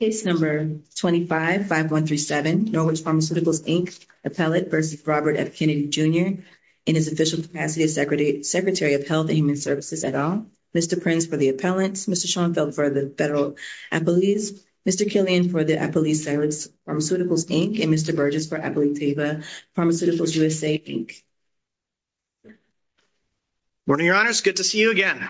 Case No. 25-5137, Norwich Pharmaceuticals, Inc., appellate v. Robert F. Kennedy, Jr., in his official capacity as Secretary of Health and Human Services et al., Mr. Prince for the appellants, Mr. Schoenfeld for the federal appellees, Mr. Killian for the appellees' salaries, Pharmaceuticals, Inc., and Mr. Burgess for Appalachia Pharmaceuticals, USA, Inc. Good morning, Your Honors. Good to see you again.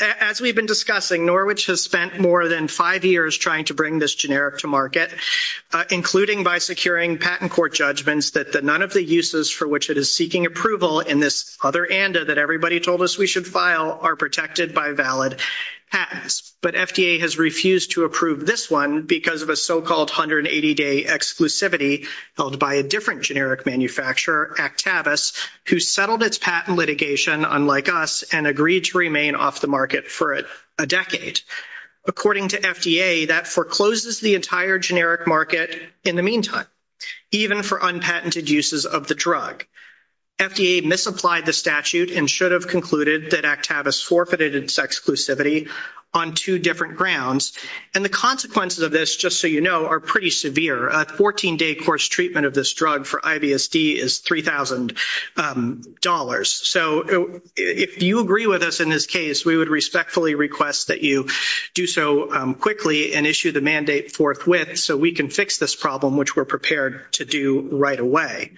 As we've been discussing, Norwich has spent more than five years trying to bring this generic to market, including by securing patent court judgments that none of the uses for which it is seeking approval in this other ANDA that everybody told us we should file are protected by valid patents. But FDA has refused to approve this one because of a so-called 180-day exclusivity held by a different generic manufacturer, Actavis, who settled its patent litigation, unlike us, and agreed to remain off the market for a decade. According to FDA, that forecloses the entire generic market in the meantime, even for unpatented uses of the drug. FDA misapplied the statute and should have concluded that Actavis forfeited its exclusivity on two different grounds. And the consequences of this, just so you know, are pretty severe. A 14-day course treatment of this drug for IBSD is $3,000. So if you agree with us in this case, we would respectfully request that you do so quickly and issue the mandate forthwith so we can fix this problem, which we're prepared to do right away.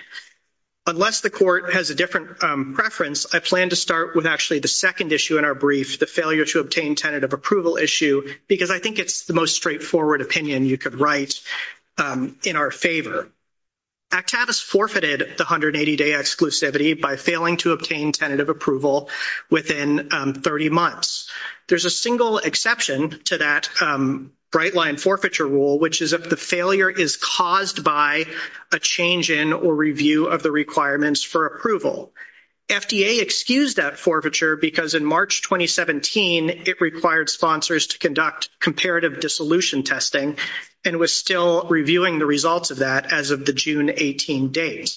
Unless the court has a different preference, I plan to start with actually the second issue in our brief, the failure to obtain tentative approval issue, because I think it's the most straightforward opinion you could write in our favor. Actavis forfeited the 180-day exclusivity by failing to obtain tentative approval within 30 months. There's a single exception to that bright-line forfeiture rule, which is that the failure is caused by a change in or review of the requirements for approval. FDA excused that forfeiture because in March 2017, it required sponsors to conduct comparative dissolution testing and was still reviewing the results of that as of the June 18 date.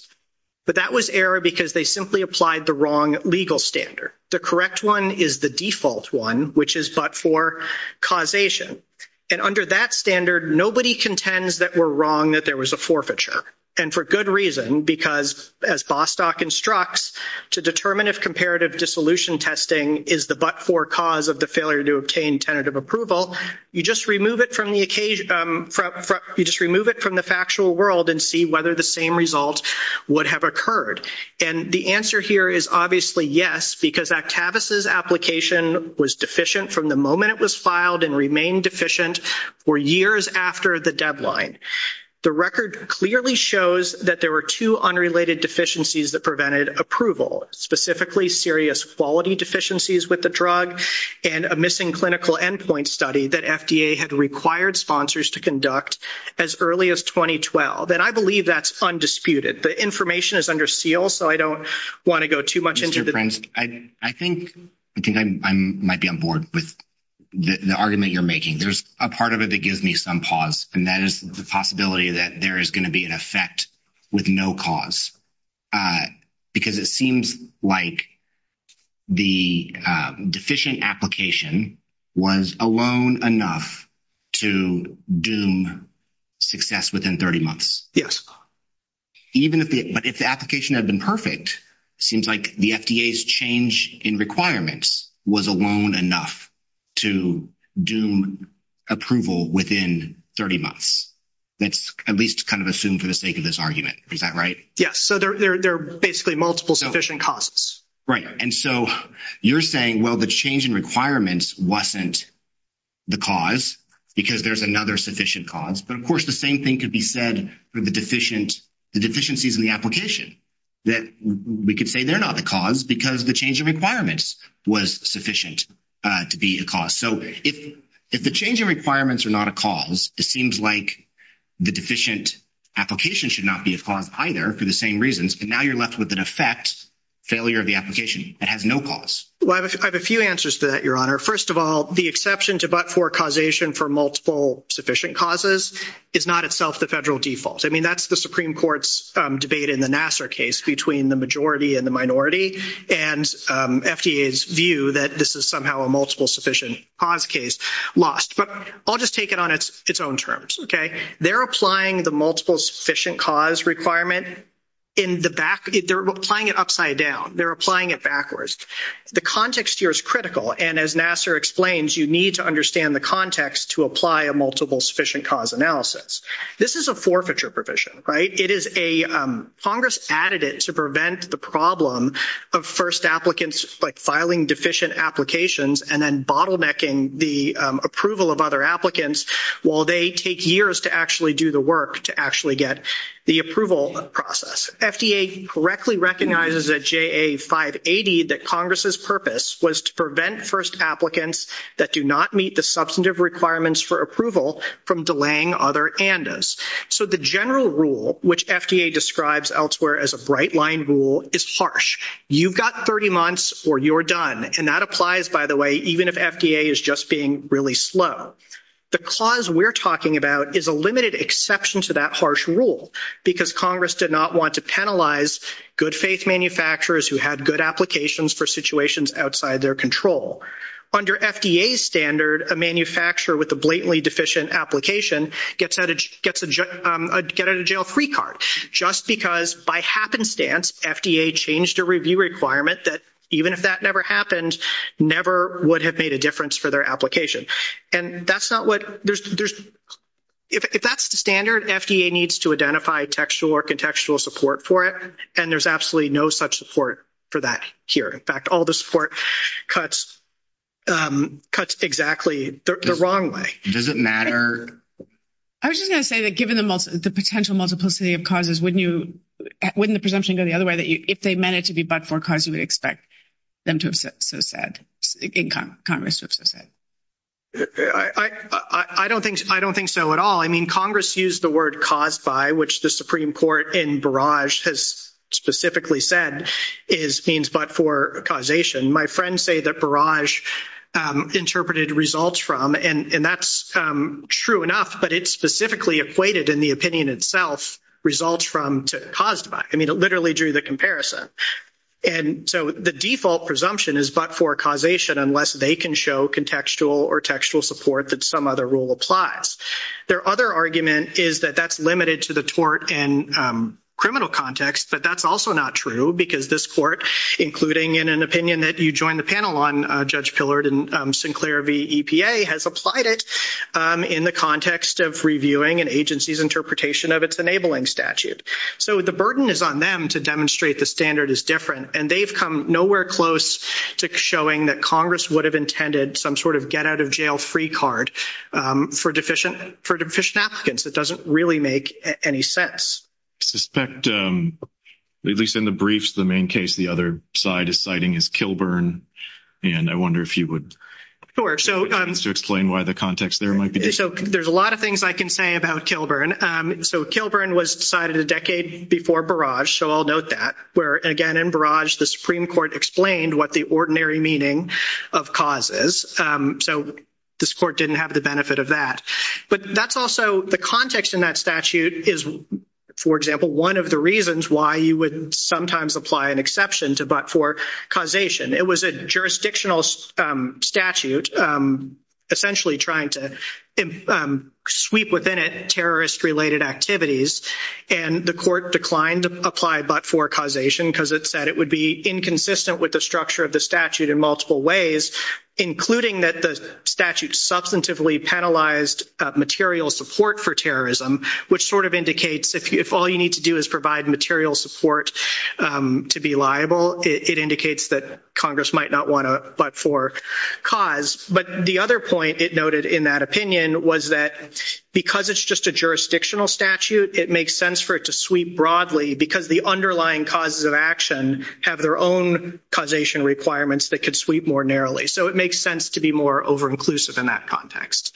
But that was error because they simply applied the wrong legal standard. The correct one is the default one, which is but for causation. And under that standard, nobody contends that we're wrong that there was a forfeiture. And for good reason, because as Bostock instructs, to determine if comparative dissolution testing is the but-for cause of the failure to obtain tentative approval, you just remove it from the factual world and see whether the same result would have occurred. And the answer here is obviously yes, because Actavis' application was deficient from the was filed and remained deficient for years after the deadline. The record clearly shows that there were two unrelated deficiencies that prevented approval, specifically serious quality deficiencies with the drug and a missing clinical endpoint study that FDA had required sponsors to conduct as early as 2012. And I believe that's undisputed. The information is under seal, so I don't want to go too much into it. Mr. Prince, I think I might be on board with the argument you're making. There's a part of it that gives me some pause, and that is the possibility that there is going to be an effect with no cause, because it seems like the deficient application was alone enough to doom success within 30 months. Yes. Even if the application had been perfect, it seems like the FDA's change in requirements was alone enough to doom approval within 30 months. That's at least kind of assumed for the sake of this argument. Is that right? Yes. So there are basically multiple sufficient causes. Right. And so you're saying, well, the change in requirements wasn't the cause because there's another sufficient cause. But, of course, the same thing could be said for the deficiencies in the application, that we could say they're not the cause because the change in requirements was sufficient to be a cause. So if the change in requirements are not a cause, it seems like the deficient application should not be a cause either for the same reasons. But now you're left with an effect, failure of the application that has no cause. Well, I have a few answers to that, Your Honor. First of all, the exception to but-for causation for multiple sufficient causes is not itself the federal default. I mean, that's the Supreme Court's debate in the Nassar case between the majority and the minority, and FDA's view that this is somehow a multiple sufficient cause case lost. But I'll just take it on its own terms, okay? They're applying the multiple sufficient cause requirement in the back. They're applying it upside down. They're applying it backwards. The context here is critical, and as Nassar explains, you need to understand the context to apply a multiple sufficient cause analysis. This is a forfeiture provision, right? It is a Congress added it to prevent the problem of first applicants filing deficient applications and then bottlenecking the approval of other applicants while they take years to actually do the work to actually get the approval process. FDA correctly recognizes at JA 580 that Congress's purpose was to prevent first applicants that do not meet the substantive requirements for approval from delaying other andes. So the general rule, which FDA describes elsewhere as a bright line rule, is harsh. You've got 30 months or you're done, and that applies, by the way, even if FDA is just being really slow. The cause we're talking about is a limited exception to that harsh rule because Congress did not want to penalize good-faith manufacturers who had good applications for situations outside their control. Under FDA's standard, a manufacturer with a blatantly deficient application gets a get-out-of-jail-free card just because by happenstance FDA changed a their application. If that's the standard, FDA needs to identify textual or contextual support for it, and there's absolutely no such support for that here. In fact, all the support cuts exactly the wrong way. Does it matter? I was just going to say that given the potential multiplicity of causes, wouldn't the presumption go the other way, that if they meant it to be but for a cause, you would expect them to have in Congress to have so said? I don't think so at all. I mean, Congress used the word caused by, which the Supreme Court in Barrage has specifically said is means but for causation. My friends say that Barrage interpreted results from, and that's true enough, but it specifically equated in the opinion itself results from to caused by. I mean, literally drew the comparison. And so the default presumption is but for causation unless they can show contextual or textual support that some other rule applies. Their other argument is that that's limited to the tort and criminal context, but that's also not true because this court, including in an opinion that you joined the panel on, Judge Pillard and Sinclair v. EPA, has applied it in the context of reviewing an agency's interpretation of its enabling statute. So the burden is on them to demonstrate the standard is different, and they've come nowhere close to showing that Congress would have intended some sort of get out of jail free card for deficient applicants. It doesn't really make any sense. I suspect, at least in the briefs, the main case the other side is citing is Kilburn, and I wonder if you would explain why the context there might be different. There's a lot of things I can say about Kilburn. So Kilburn was decided a decade before Barrage, so I'll note that. Where, again, in Barrage, the Supreme Court explained what the ordinary meaning of cause is. So this court didn't have the benefit of that. But that's also the context in that statute is, for example, one of the reasons why you would sometimes apply an exception to but jurisdictional statute, essentially trying to sweep within it terrorist-related activities. And the court declined to apply but for causation because it said it would be inconsistent with the structure of the statute in multiple ways, including that the statute substantively penalized material support for terrorism, which sort of indicates if all you need to do is provide material support to be liable, it indicates that Congress might not want a but for cause. But the other point it noted in that opinion was that because it's just a jurisdictional statute, it makes sense for it to sweep broadly because the underlying causes of action have their own causation requirements that could sweep more narrowly. So it makes sense to be more over-inclusive in that context.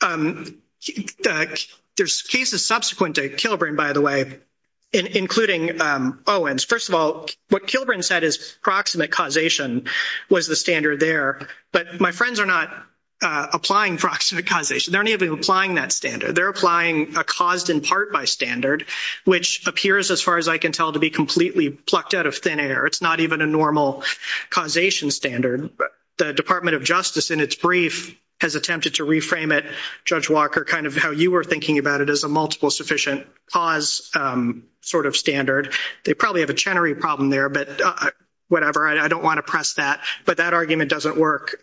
There's cases subsequent to Kilbrin, by the way, including Owens. First of all, what Kilbrin said is proximate causation was the standard there. But my friends are not applying proximate causation. They're not even applying that standard. They're applying a caused in part by standard, which appears, as far as I can tell, to be completely plucked out of thin air. It's not even a normal causation standard. The Department of Justice, in its brief, has attempted to reframe it, Judge Walker, kind of how you were thinking about it as a multiple sufficient cause sort of standard. They probably have a Chenery problem there, but whatever. I don't want to press that. But that argument doesn't work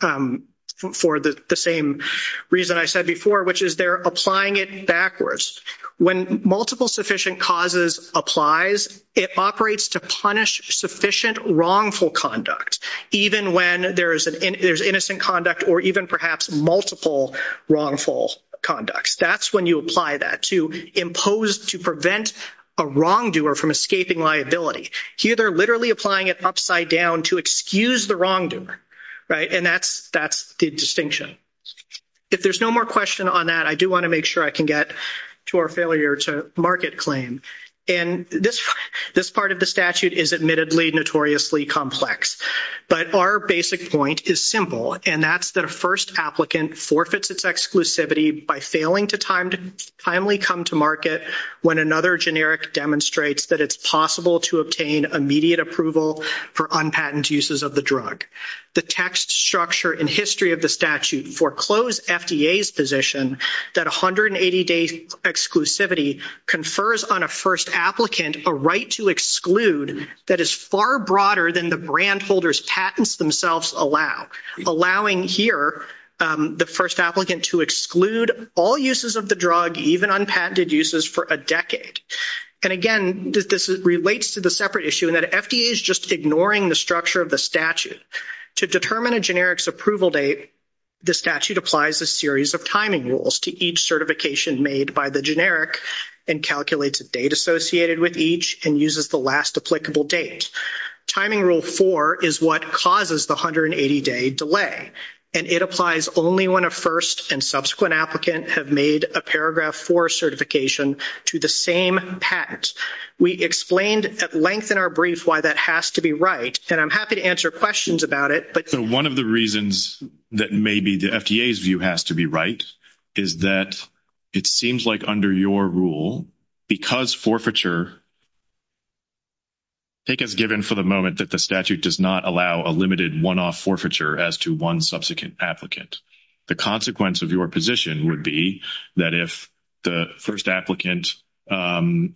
for the same reason I said before, which is they're applying it backwards. When multiple sufficient causes applies, it operates to punish sufficient wrongful conduct, even when there's innocent conduct or even perhaps multiple wrongful conducts. That's when you apply that, to impose, to prevent a wrongdoer from escaping liability. Here they're literally applying it upside down to excuse the wrongdoer, right? And that's the distinction. If there's no more question on that, I do want to make sure I can get to our failure to market claim. And this part of the statute is admittedly notoriously complex. But our basic point is simple, and that's that a first applicant forfeits its exclusivity by failing to timely come to market when another generic demonstrates that it's possible to obtain immediate approval for unpatent uses of the drug. The text structure and history of the statute foreclose FDA's position that 180-day exclusivity confers on a first applicant a right to exclude that is far broader than the brand holders' patents themselves allow, allowing here the first applicant to exclude all uses of the drug, even unpatented uses, for a decade. And again, this relates to the separate issue in that FDA is just ignoring the structure of the statute. To determine a generic's approval date, the statute applies a series of timing rules to each certification made by the generic and calculates a date associated with each and uses the last applicable date. Timing rule 4 is what causes the 180-day delay, and it applies only when a first and subsequent applicant have made a paragraph 4 certification to the same patent. We explained at length in our brief why that has to be right, and I'm happy to answer questions about it. So one of the reasons that maybe the FDA's view has to be right is that it seems like under your rule, because forfeiture, take as given for the moment that the statute does not allow a limited one-off forfeiture as to one subsequent applicant. The consequence of your position would be that if the first applicant, it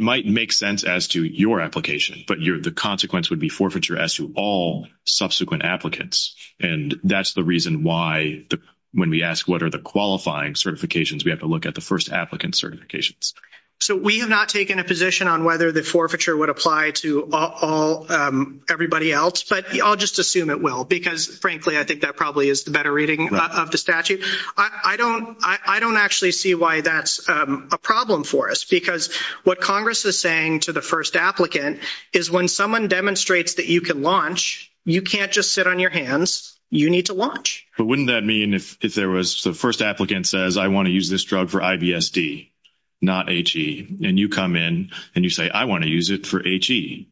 might make sense as to your application, but the consequence would be forfeiture as to all subsequent applicants. And that's the reason why, when we ask what are the qualifying certifications, we have to look at the first applicant certifications. So we have not taken a position on whether the forfeiture would apply to everybody else, but I'll just assume it will, because, frankly, I think that probably is the better reading of the statute. I don't actually see why that's a problem for us, because what Congress is saying to the first applicant is when someone demonstrates that you can launch, you can't just sit on your hands, you need to launch. But wouldn't that mean if there was, the first applicant says, I want to use this drug for IBSD, not HE, and you come in and you say, I want to use it for HE,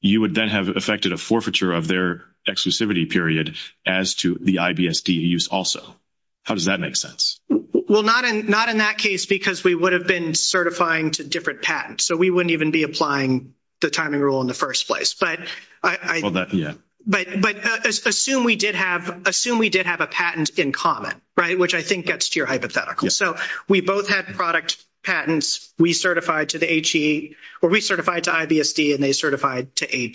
you would then have affected a forfeiture of their exclusivity period as to the IBSD use also. How does that make sense? Well, not in that case, because we would have been certifying to different patents. So we wouldn't even be applying the timing rule in the first place. But assume we did have a patent in common, right, which I think gets to your hypothetical. So we both had product patents, we certified to the HE, or we certified to IBSD and they certified to HE.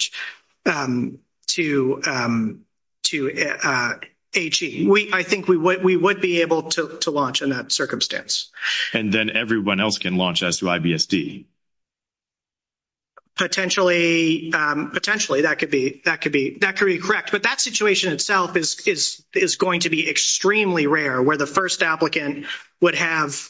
I think we would be able to launch in that circumstance. And then everyone else can launch as to IBSD. Potentially, that could be correct. But that situation itself is going to be extremely rare, where the first applicant would have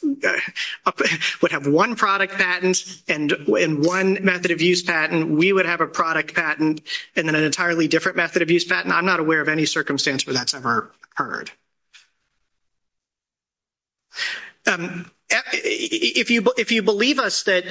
one product patent and one method of use patent. We would have a product patent and then an entirely different method of use patent. I'm not aware of any circumstance where that's ever occurred. If you believe us that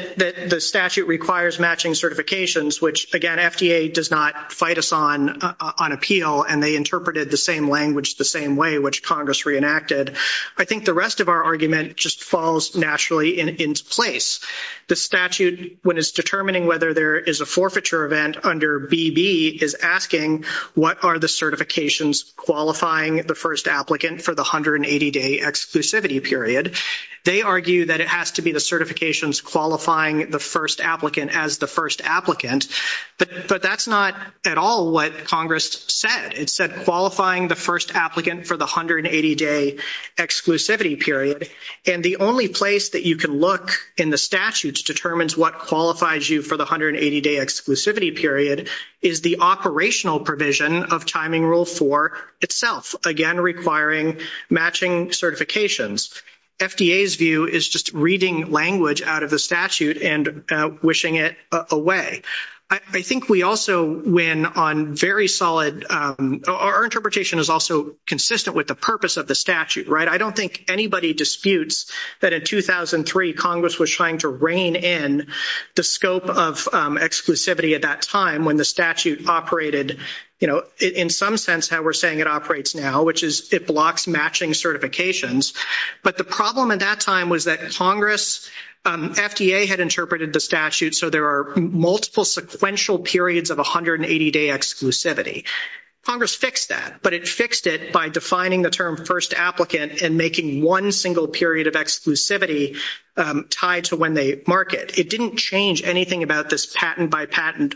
the statute requires matching certifications, which again, FDA does not fight us on appeal, and they interpreted the language the same way which Congress reenacted, I think the rest of our argument just falls naturally into place. The statute, when it's determining whether there is a forfeiture event under BB, is asking what are the certifications qualifying the first applicant for the 180-day exclusivity period. They argue that it has to be the certifications qualifying the first applicant as the first applicant. But that's not at all what Congress said. It said qualifying the first applicant for the 180-day exclusivity period. And the only place that you can look in the statutes determines what qualifies you for the 180-day exclusivity period is the operational provision of Timing Rule 4 itself, again requiring matching certifications. FDA's view is just reading language out of the statute and wishing it away. I think we also win on very solid, our interpretation is also consistent with the purpose of the statute, right? I don't think anybody disputes that in 2003 Congress was trying to rein in the scope of exclusivity at that time when the statute operated, you know, in some sense how we're saying it operates now, which is it matching certifications. But the problem at that time was that Congress, FDA had interpreted the statute so there are multiple sequential periods of 180-day exclusivity. Congress fixed that, but it fixed it by defining the term first applicant and making one single period of exclusivity tied to when they mark it. It didn't change anything about this patent by patent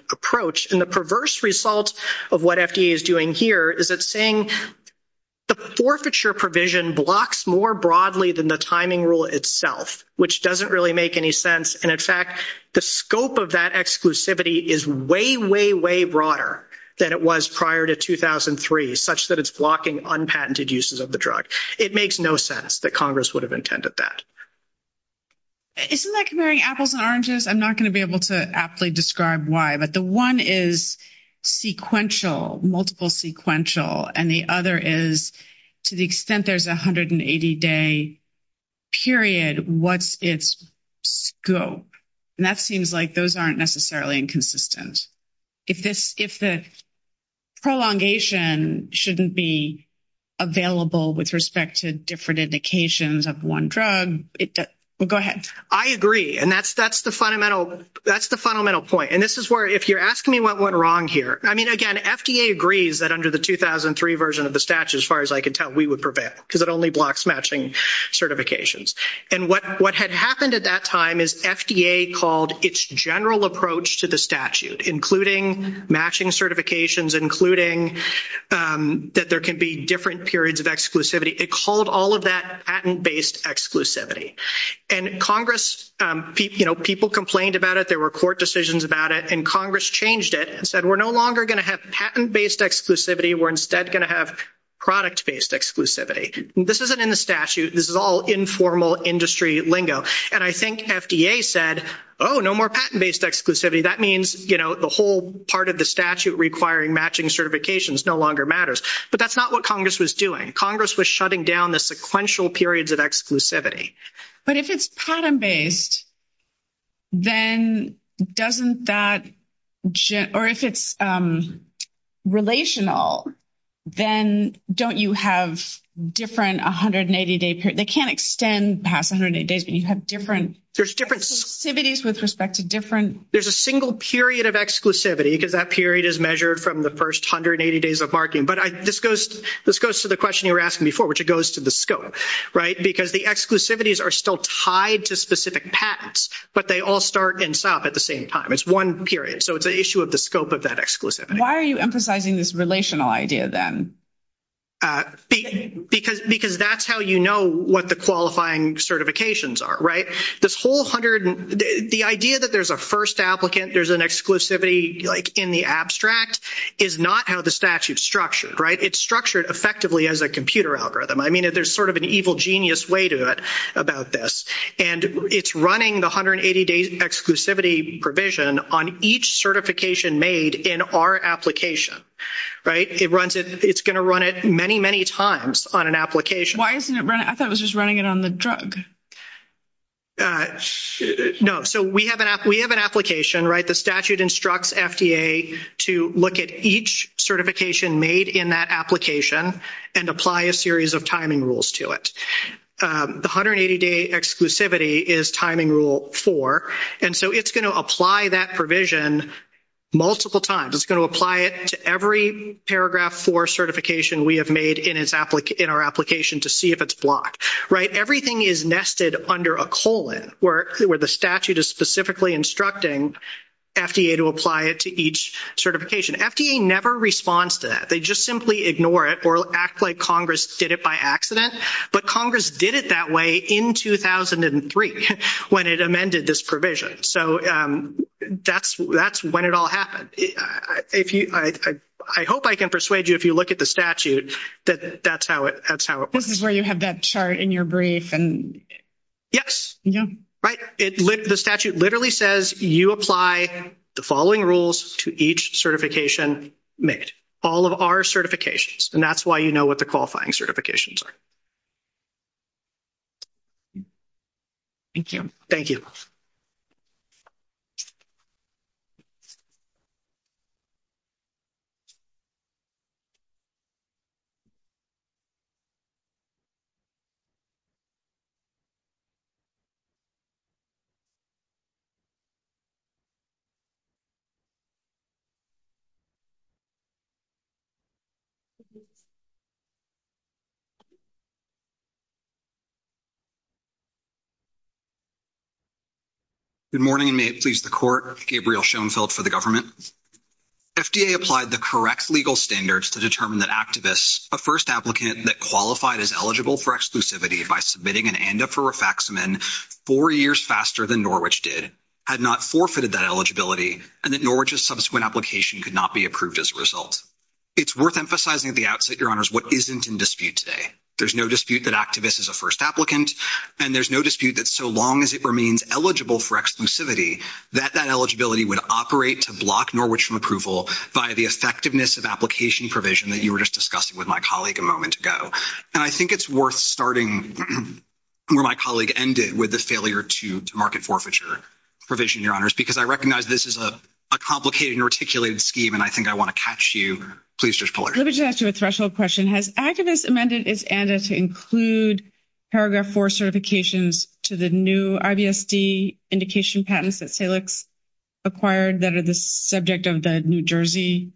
blocks more broadly than the timing rule itself, which doesn't really make any sense. And in fact, the scope of that exclusivity is way, way, way broader than it was prior to 2003, such that it's blocking unpatented uses of the drug. It makes no sense that Congress would have intended that. Isn't that comparing apples and oranges? I'm not going to be able to aptly describe why, but the one is sequential, multiple sequential, and the other is to the extent there's 180-day period, what's its scope? And that seems like those aren't necessarily inconsistent. If the prolongation shouldn't be available with respect to different indications of one drug, well, go ahead. I agree. And that's the fundamental point. And this is where, if you're asking me what went wrong here, I mean, again, FDA agrees that under the 2003 version of the statute, as far as I can tell, we would prevail because it only blocks matching certifications. And what had happened at that time is FDA called its general approach to the statute, including matching certifications, including that there can be different periods of exclusivity. It called all that patent-based exclusivity. And Congress, people complained about it. There were court decisions about it. And Congress changed it and said, we're no longer going to have patent-based exclusivity. We're instead going to have product-based exclusivity. This isn't in the statute. This is all informal industry lingo. And I think FDA said, oh, no more patent-based exclusivity. That means the whole part of the statute requiring matching certifications no matters. But that's not what Congress was doing. Congress was shutting down the sequential periods of exclusivity. But if it's patent-based, then doesn't that or if it's relational, then don't you have different 180-day period? They can't extend past 180 days, but you have different exclusivities with respect to different... There's a single period of exclusivity because that period is measured from the first 180 days of marking. But this goes to the question you were asking before, which it goes to the scope, right? Because the exclusivities are still tied to specific patents, but they all start and stop at the same time. It's one period. So it's an issue of the scope of that exclusivity. Why are you emphasizing this relational idea then? Because that's how you know what the qualifying certifications are, right? The idea that there's a first applicant, there's an exclusivity in the abstract is not how the statute's structured, right? It's structured effectively as a computer algorithm. I mean, there's sort of an evil genius way to it about this. And it's running the 180-day exclusivity provision on each certification made in our application, right? It's going to run it many, many times on an application. Why isn't it running? I thought it was just running it on the drug. No. So we have an application, right? The statute instructs FDA to look at each certification made in that application and apply a series of timing rules to it. The 180-day exclusivity is timing rule four. And so it's going to apply that provision multiple times. It's going to apply it to every paragraph four certification we have made in our application to see if it's blocked, right? Everything is nested under a colon where the statute is specifically instructing FDA to apply it to each certification. FDA never responds to that. They just simply ignore it or act like Congress did it by accident. But Congress did it that way in 2003 when it amended this provision. So that's when it all happened. I hope I can persuade you if you look at the statute that that's how it works. This is where you have that chart in your brief. Yes. Right. The statute literally says you apply the following rules to each certification made. All of our certifications. And that's why you know what the qualifying certifications are. Thank you. Thank you. Thank you. Good morning and may it please the court. Gabriel Schoenfeld for the government. FDA applied the correct legal standards to determine that activists, a first applicant that qualified as eligible for exclusivity by submitting an ANDA for Rifaximin four years faster than Norwich did, had not forfeited that eligibility and that Norwich's subsequent application could not be approved as a result. It's worth emphasizing at the outset, your honors, what isn't in dispute today. There's no dispute that activists is a first applicant and there's no dispute that so long as it remains eligible for exclusivity, that that eligibility would operate to block Norwich from approval by the effectiveness of application provision that you were just discussing with my colleague a moment ago. And I think it's worth starting where my colleague ended with the failure to market forfeiture provision, your honors, because I recognize this is a complicated and articulated scheme and I think I want to catch you. Please, Judge Pollard. Let me just ask you a threshold question. Has activists amended its ANDA to include paragraph four certifications to the new IBSD indication patents that Salix acquired that are the subject of the New Jersey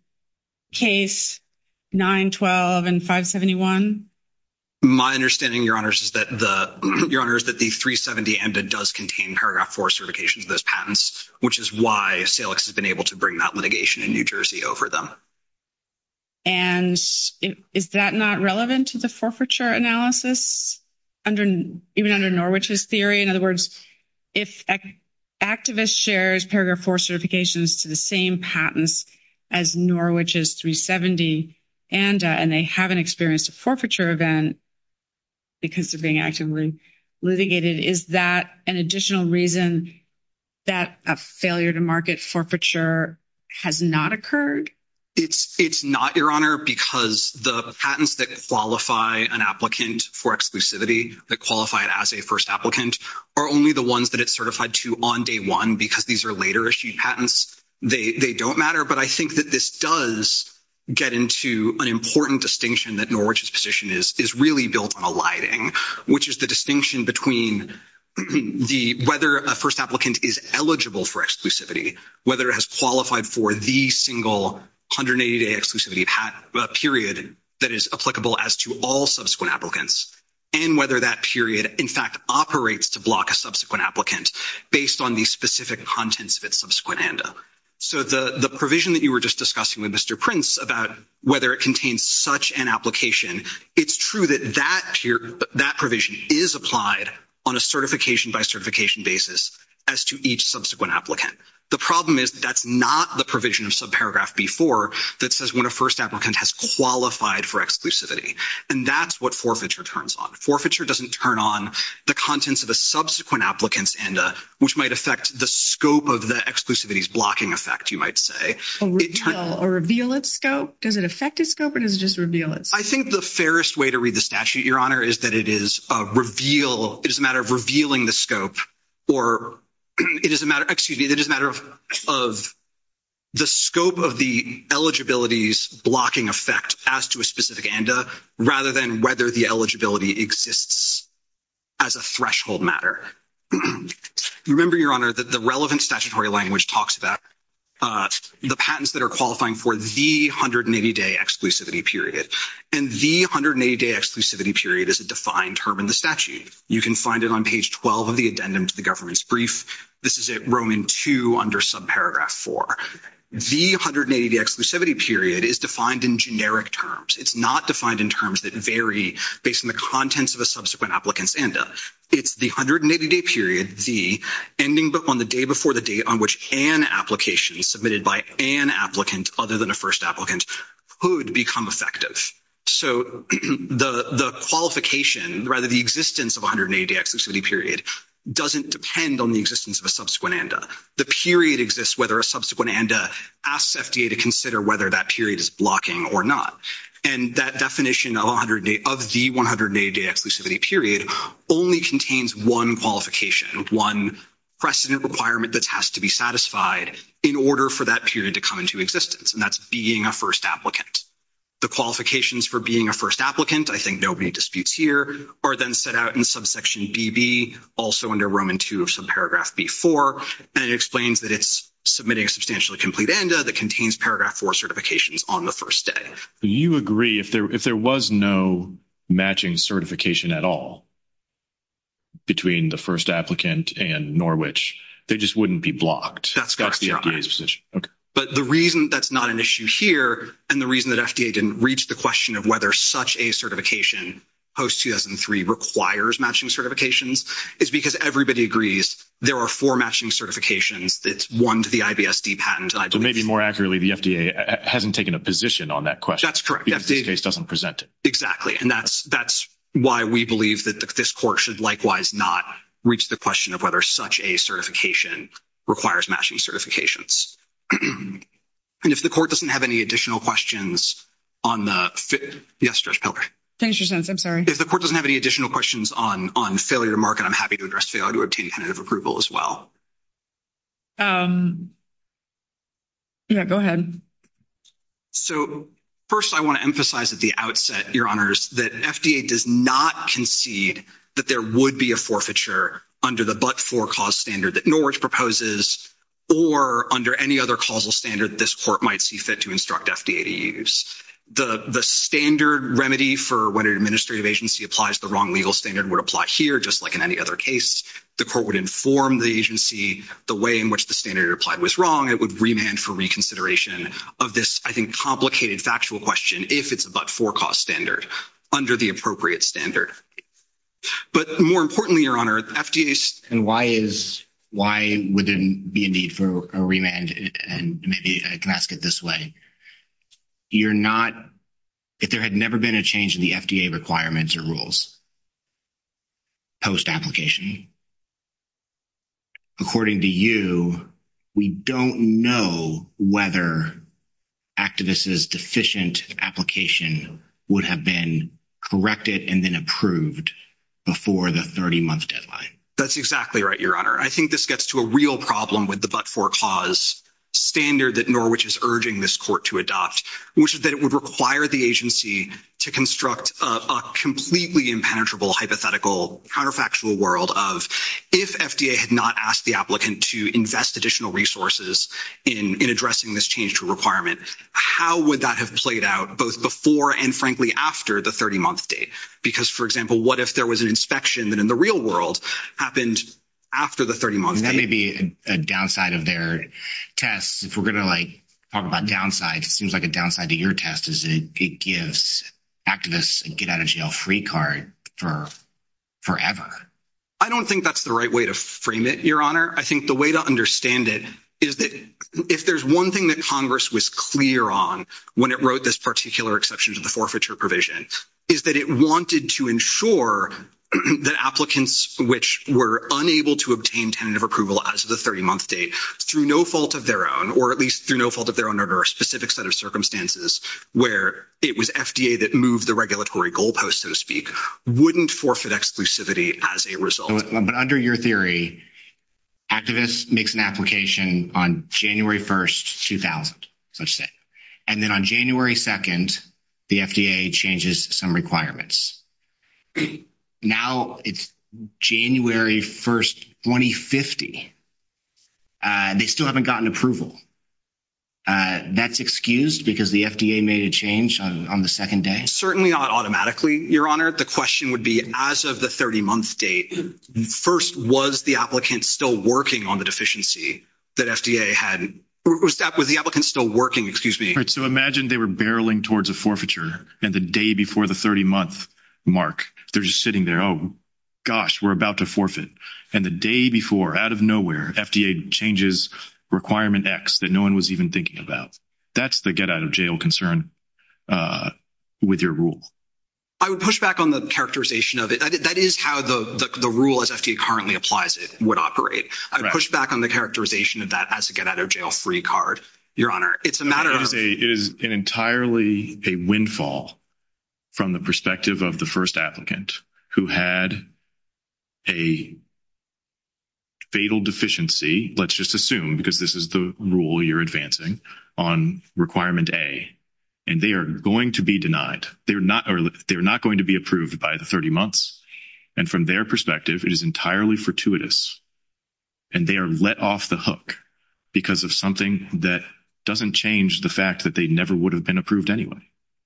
case 912 and 571? My understanding, your honors, is that the 370 ANDA does contain paragraph four certifications of those patents, which is why Salix has been able to bring that litigation in New Jersey over them. And is that not relevant to the forfeiture analysis even under Norwich's theory? In other words, if an activist shares paragraph four certifications to the same patents as Norwich's 370 ANDA and they haven't experienced a forfeiture event because they're being actively litigated, is that an additional reason that a failure to market forfeiture has not occurred? It's not, your honor, because the patents that qualify an applicant for exclusivity, that qualify it as a first applicant, are only the ones that it's certified to on day one because these are later issued patents. They don't matter, but I think that this does get into an important distinction that Norwich's position is really built on a lighting, which is the distinction between whether a first applicant is eligible for exclusivity, whether it has qualified for the single 180-day exclusivity period that is applicable as to all subsequent applicants, and whether that period, in fact, operates to block a subsequent applicant based on the specific contents of its subsequent ANDA. So the provision that you were just discussing with Mr. Prince about whether it contains such an application, it's true that that provision is applied on a certification-by-certification basis as to each subsequent applicant. The problem is that's not the provision of subparagraph B4 that says when a first applicant has qualified for exclusivity, and that's what forfeiture turns on. Forfeiture doesn't turn on the contents of a subsequent applicant's ANDA, which might affect the scope of the exclusivity's blocking effect, you might say. A reveal its scope? Does it affect its scope or does it just reveal it? I think the fairest way to read the statute, your honor, is that it is a matter of revealing the scope, or it is a matter of the scope of the eligibility's blocking effect as to a specific ANDA, rather than whether the eligibility exists as a threshold matter. Remember, your honor, that the relevant statutory language talks about the patents that are qualifying for the 180-day exclusivity period, and the 180-day exclusivity period is a defined term in the statute. You can find it on page 12 of the addendum to the government's brief. This is it, Roman 2 under subparagraph 4. The 180-day exclusivity period is defined in generic terms. It's not defined in terms that vary based on the contents of a subsequent applicant's ANDA. It's the 180-day period, the ending on the day before the date on which an application submitted by an applicant other than a first applicant could become effective. So, the qualification, rather, the existence of 180-day exclusivity period doesn't depend on the existence of a subsequent ANDA. The period exists whether a subsequent ANDA asks FDA to consider whether that period is blocking or not. And that definition of the 180-day exclusivity period only contains one qualification, one precedent requirement that has to be satisfied in order for that period to come to existence, and that's being a first applicant. The qualifications for being a first applicant, I think nobody disputes here, are then set out in subsection BB, also under Roman 2 of subparagraph B4, and it explains that it's submitting a substantially complete ANDA that contains paragraph 4 certifications on the first day. You agree, if there was no matching certification at all between the first applicant and Norwich, they just wouldn't be blocked. That's the FDA's position. Okay. But the reason that's not an issue here and the reason that FDA didn't reach the question of whether such a certification post-2003 requires matching certifications is because everybody agrees there are four matching certifications that's one to the IBSD patent, I believe. So, maybe more accurately, the FDA hasn't taken a position on that question. That's correct. Because this case doesn't present it. Exactly. And that's why we believe that this court should likewise not reach the question of whether such a certification requires matching certifications. And if the court doesn't have any additional questions on the... Yes, Judge Peller. Thanks, Your Sense. I'm sorry. If the court doesn't have any additional questions on failure to market, I'm happy to address failure to obtain tentative approval as well. Yeah, go ahead. So, first, I want to emphasize at the outset, Your Honors, that FDA does not concede that there would be a forfeiture under the but-for cause standard that Norwich proposes or under any other causal standard this court might see fit to instruct FDA to use. The standard remedy for when an administrative agency applies the wrong legal standard would apply here, just like in any other case. The court would inform the agency the way in which the standard applied was wrong. It would remand for reconsideration of this, I think, complicated factual question if it's a but-for standard under the appropriate standard. But more importantly, Your Honor, FDA... And why is... Why would there be a need for a remand? And maybe I can ask it this way. You're not... If there had never been a change in the FDA requirements or rules post-application, according to you, we don't know whether activists' deficient application would have been corrected and then approved before the 30-month deadline. That's exactly right, Your Honor. I think this gets to a real problem with the but-for cause standard that Norwich is urging this court to adopt, which is that it would require the agency to construct a completely impenetrable, hypothetical, counterfactual world of, if FDA had not asked the applicant to invest additional resources in addressing this change requirement, how would that have played out both before and, frankly, after the 30-month date? Because, for example, what if there was an inspection that in the real world happened after the 30-month date? That may be a downside of their tests. If we're going to, like, talk about downsides, it seems like a downside to your test is that it gives activists a get-out-of-jail-free card for forever. I don't think that's the right way to frame it, Your Honor. I think the way to understand it is that if there's one thing that Congress was clear on when it wrote this particular exception to the forfeiture provision is that it wanted to ensure that applicants which were unable to obtain tentative approval as of the 30-month date through no fault of their own, or at least through no fault of their own under a specific set of circumstances where it was FDA that moved the regulatory goalpost, so to speak, wouldn't forfeit exclusivity as a result. But under your theory, activists makes an on January 1st, 2000. And then on January 2nd, the FDA changes some requirements. Now it's January 1st, 2050. They still haven't gotten approval. That's excused because the FDA made a change on the second day? Certainly not automatically, Your Honor. The question would be as of the 30-month date, first, was the applicant still working on the deficiency that FDA had? Was the applicant still working? Excuse me. So imagine they were barreling towards a forfeiture and the day before the 30- month mark, they're just sitting there, oh, gosh, we're about to forfeit. And the day before, out of nowhere, FDA changes requirement X that no one was even thinking about. That's the get out of jail concern with your rule. I would push back on the characterization of it. That is how the rule as FDA currently applies it would operate. I'd push back on the characterization of that as a get out of jail free card, Your Honor. It's a matter of- It is entirely a windfall from the perspective of the first applicant who had a fatal deficiency, let's just assume because this is the rule you're advancing, on requirement A. And they are going to be denied. They're not going to be approved by the 30 months. And from their perspective, it is entirely fortuitous. And they are let off the hook because of something that doesn't change the fact that they never would have been approved anyway.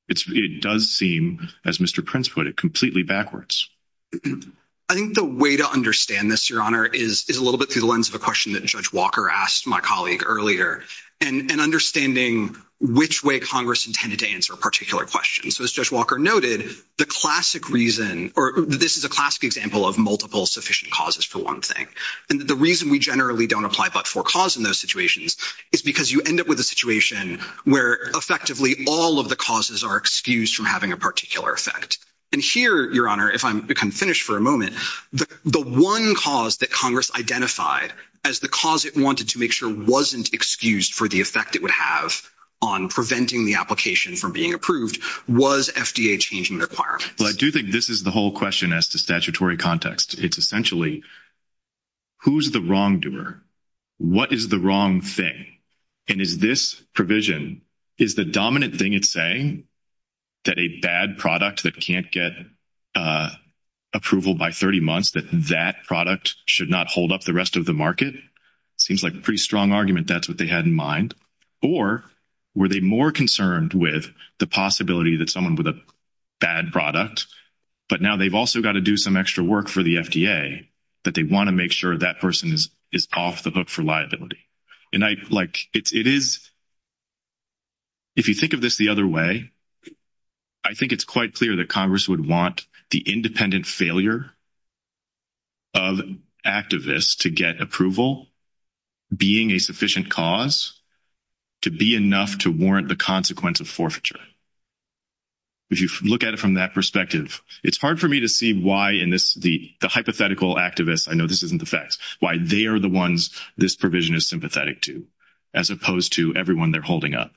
It does seem, as Mr. Prince put it, completely backwards. I think the way to understand this, Your Honor, is a little bit through the lens of a question that Judge Walker asked my colleague earlier, and understanding which way Congress intended to answer a particular question. So as Judge Walker noted, the classic reason, or this is a classic example of multiple sufficient causes for one thing. And the reason we generally don't apply but-for cause in those situations is because you end up with a situation where effectively all of the causes are excused from having a particular effect. And here, Your Honor, if I can finish for a moment, the one cause that Congress identified as the cause it wanted to make sure wasn't excused for the effect it would have on preventing the application from being approved was FDA changing requirements. Well, I do think this is the whole question as to statutory context. It's essentially, who's the wrongdoer? What is the wrong thing? And is this provision, is the dominant thing it's saying that a bad product that can't get approval by 30 months, that that product should not hold up the rest of the market? It seems like a pretty strong argument that's what they had in mind. Or were they more concerned with the possibility that someone with a bad product, but now they've also got to do some extra work for the FDA, that they want to make sure that person is off the hook for liability? And it is if you think of this the other way, I think it's quite clear that Congress would want the independent failure of activists to get approval being a sufficient cause to be enough to warrant the consequence of forfeiture. If you look at it from that perspective, it's hard for me to see why in this, the hypothetical activists, I know this isn't the facts, why they are the ones this provision is sympathetic to, as opposed to everyone they're holding up.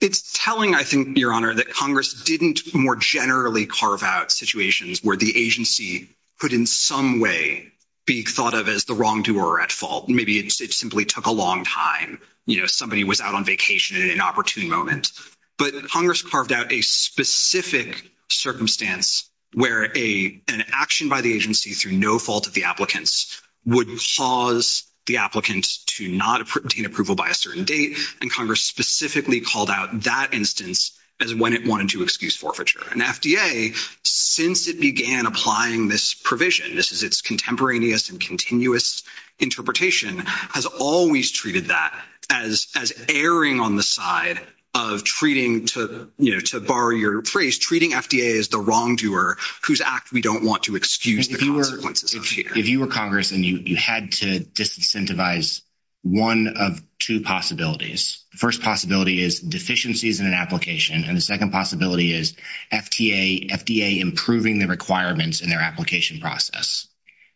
It's telling, I think, Your Honor, that Congress didn't more generally carve out situations where the agency could in some way be thought of as the wrongdoer at fault. Maybe it simply took a long time. Somebody was out on vacation at an opportune moment. But Congress carved out a specific circumstance where an action by the agency through no fault of the applicants would cause the applicant to not obtain approval by a certain date. And Congress specifically called out that instance as when it wanted to excuse forfeiture. And FDA, since it began applying this provision, this is its contemporaneous and continuous interpretation, has always treated that as erring on the side of treating, to borrow your phrase, treating FDA as the wrongdoer whose act don't want to excuse the consequences. If you were Congress and you had to disincentivize one of two possibilities, the first possibility is deficiencies in an application. And the second possibility is FDA improving the requirements in their application process.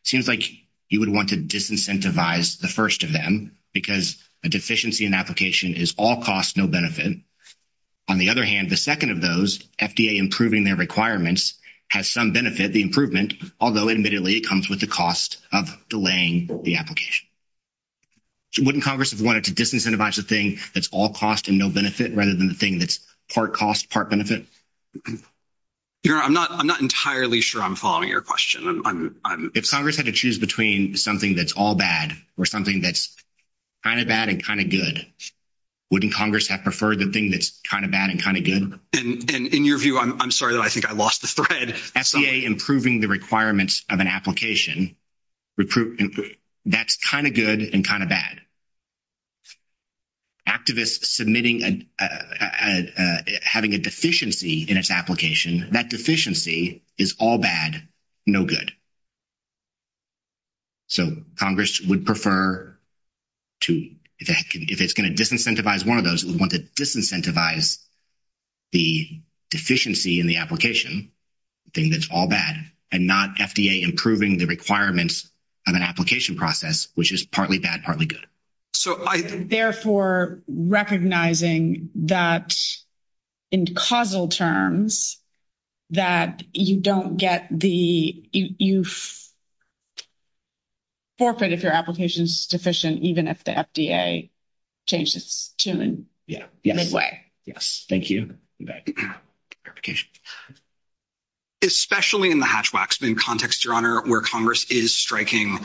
Seems like you would want to disincentivize the first of them because a deficiency in application is all cost, no benefit. On the other hand, the second of those, FDA improving their requirements, has some benefit, the improvement, although admittedly it comes with the cost of delaying the application. Wouldn't Congress have wanted to disincentivize the thing that's all cost and no benefit rather than the thing that's part cost, part benefit? I'm not entirely sure I'm following your question. If Congress had to choose between something that's all bad or something that's kind of bad and kind of good, wouldn't Congress have preferred the thing that's kind of bad and kind of good? And in your view, I'm sorry that I think I lost the thread. FDA improving the requirements of an application, that's kind of good and kind of bad. Activists submitting, having a deficiency in its application, that deficiency is all bad, no good. So Congress would prefer to, if it's going to disincentivize one of those, it would want to disincentivize the deficiency in the application, the thing that's all bad, and not FDA improving the requirements of an application process, which is partly bad, partly good. Therefore, recognizing that in causal terms, that you don't get the, you forfeit if your application is deficient, even if the FDA changed its tune midway. Yes. Thank you. Especially in the Hatch-Waxman context, Your Honor, where Congress is striking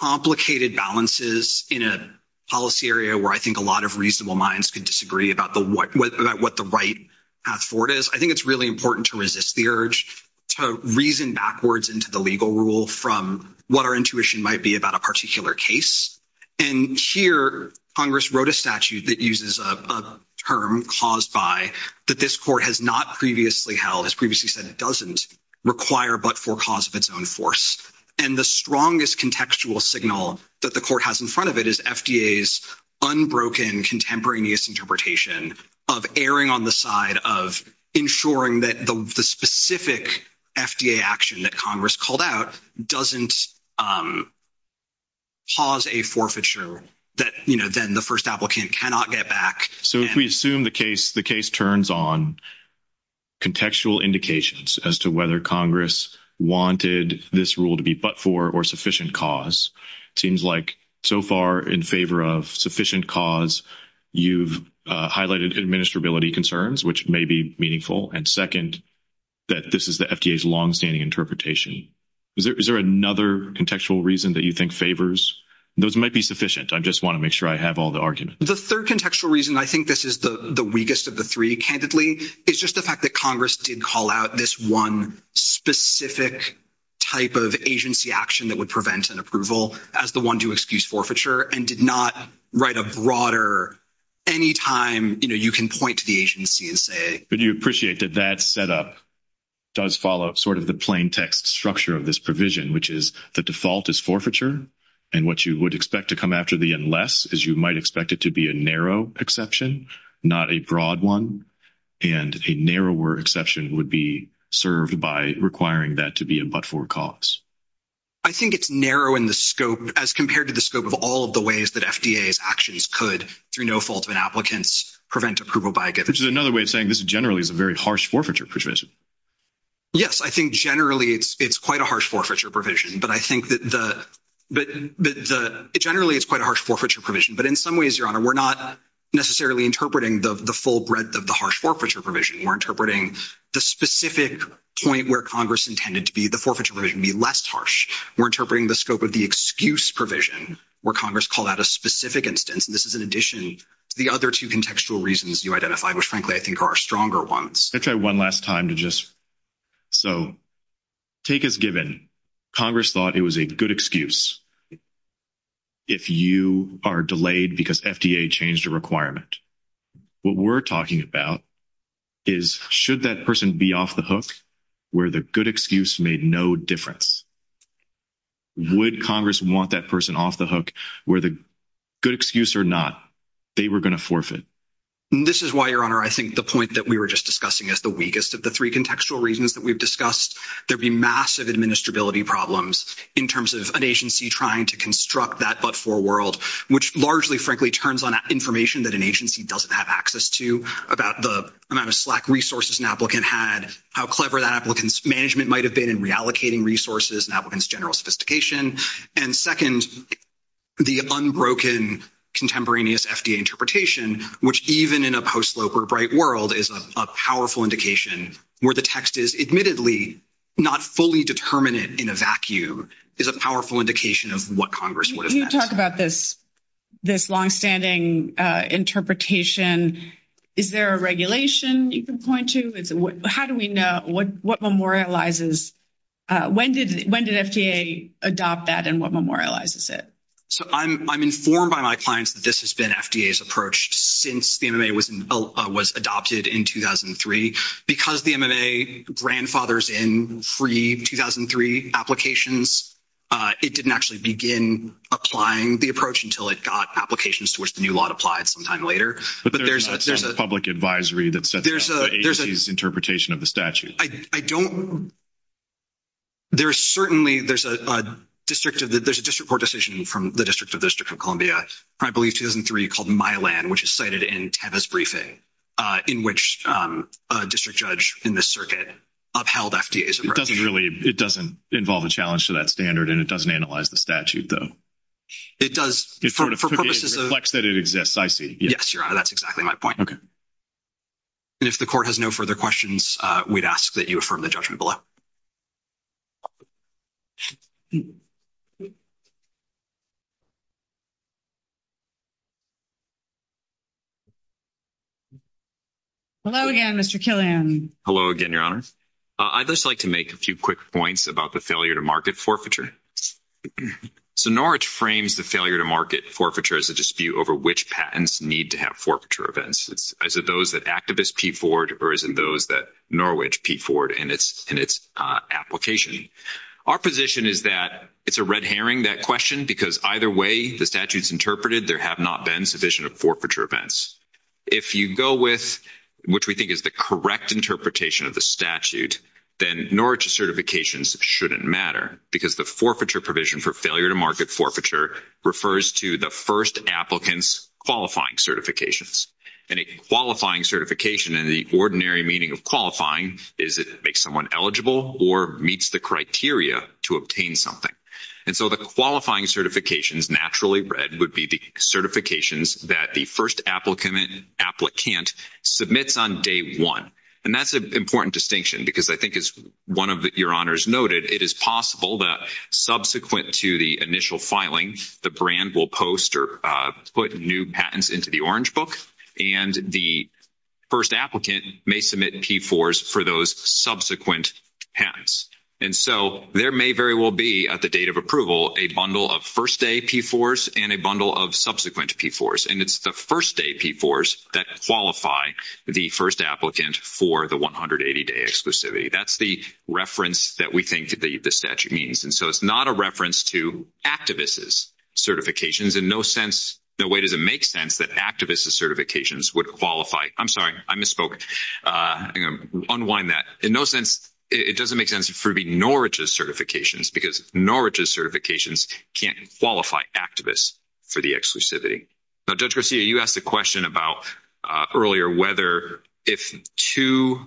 complicated balances in a policy area where I think a lot of reasonable minds could disagree about what the right path forward is, I think it's really important to resist the urge to reason backwards into the legal rule from what our intuition might be about a particular case. And here, Congress wrote a statute that uses a term caused by, that this court has not previously held, has previously said it doesn't, require but for cause of its own force. And the strongest contextual signal that the court has in front of it is FDA's unbroken contemporaneous interpretation of erring on the side of ensuring that the specific FDA action that Congress called out doesn't pause a forfeiture that then the first applicant cannot get back. So if we assume the case turns on contextual indications as to whether Congress wanted this rule to be but for or sufficient cause, it seems like so far in favor of sufficient cause, you've highlighted administrability concerns, which may be meaningful, and second, that this is the FDA's longstanding interpretation. Is there another contextual reason that you think favors? Those might be sufficient. I just want to make sure I have all the arguments. The third contextual reason I think this is the weakest of the three, candidly, is just the fact that Congress did call out this one specific type of agency action that would any time, you know, you can point to the agency and say... But do you appreciate that that setup does follow sort of the plain text structure of this provision, which is the default is forfeiture, and what you would expect to come after the unless is you might expect it to be a narrow exception, not a broad one, and a narrower exception would be served by requiring that to be a but for cause. I think it's narrow in the scope, as compared to the scope of all of the ways that FDA's actions could, through no fault of an applicant's, prevent approval by a giver. Which is another way of saying this generally is a very harsh forfeiture provision. Yes, I think generally it's quite a harsh forfeiture provision, but I think that the... Generally, it's quite a harsh forfeiture provision, but in some ways, Your Honor, we're not necessarily interpreting the full breadth of the harsh forfeiture provision. We're interpreting the specific point where Congress intended to be the forfeiture provision be less harsh. We're interpreting the scope of the excuse provision, where Congress called out a specific instance, and this is in addition to the other two contextual reasons you identified, which frankly, I think are stronger ones. I'll try one last time to just... So, take as given, Congress thought it was a good excuse if you are delayed because FDA changed a requirement. What we're talking about is should that person be off the hook, where the good excuse made no difference? Would Congress want that person off the hook, where the good excuse or not, they were going to forfeit? This is why, Your Honor, I think the point that we were just discussing is the weakest of the three contextual reasons that we've discussed. There'd be massive administrability problems in terms of an agency trying to construct that but-for world, which largely, frankly, turns on information that an agency doesn't have access to about the amount of slack resources an applicant had, how clever that applicant's management might have been in reallocating resources and applicants' general sophistication. And second, the unbroken contemporaneous FDA interpretation, which even in a post-slope or bright world is a powerful indication where the text is admittedly not fully determinate in a vacuum, is a powerful indication of what Congress would have meant. Can you talk about this longstanding interpretation? Is there a regulation you can point to? How do we know? When did FDA adopt that and what memorializes it? So, I'm informed by my clients that this has been FDA's approach since the MMA was adopted in 2003. Because the MMA grandfathers in free 2003 applications, it didn't actually begin applying the approach until it got applications to which the new law applied sometime later. But there's a public advisory that sets out the agency's interpretation of the statute. I don't-there's certainly-there's a district of-there's a district court decision from the District of District of Columbia, I believe 2003, called Mylan, which is cited in Teva's briefing, in which a district judge in the circuit upheld FDA's approach. It doesn't really-it doesn't involve a challenge to that standard and it doesn't analyze the statute, though. It does-for purposes of-it reflects that it exists, I see. Yes, Your Honor, that's exactly my point. If the court has no further questions, we'd ask that you affirm the judgment below. Hello again, Mr. Killian. Hello again, Your Honor. I'd just like to make a few quick points about the failure to market forfeiture. So, Norwich frames the failure to market forfeiture as a dispute over which patents need to have forfeiture events. Is it those that activists peep forward or is it those that Norwich peep forward in its application? Our position is that it's a red herring, that question, because either way the statute's interpreted, there have not been sufficient of forfeiture events. If you go with what we think is the correct interpretation of the statute, then Norwich certifications shouldn't matter because the forfeiture provision for failure to market forfeiture refers to the first applicant's qualifying certifications. And a qualifying certification, in the ordinary meaning of qualifying, is it makes someone eligible or meets the criteria to obtain something. And so, the qualifying certifications, naturally read, would be the certifications that the first applicant submits on day one. And that's an important distinction because I think, as one of your honors noted, it is possible that subsequent to the initial filing, the brand will post or put new patents into the orange book and the first applicant may submit P4s for those subsequent patents. And so, there may very well be, at the date of approval, a bundle of first-day P4s and a bundle of subsequent P4s. And it's the first-day P4s that qualify the first applicant for the 180-day exclusivity. That's the reference that we think the statute means. And so, it's not a reference to activists' certifications. In no way does it make sense that activists' certifications would qualify. I'm sorry, I misspoke. I'm going to unwind that. In no sense, it doesn't make sense for Norwich's certifications because Norwich's certifications can't qualify activists for the exclusivity. Now, Judge Garcia, you asked a question about earlier whether if two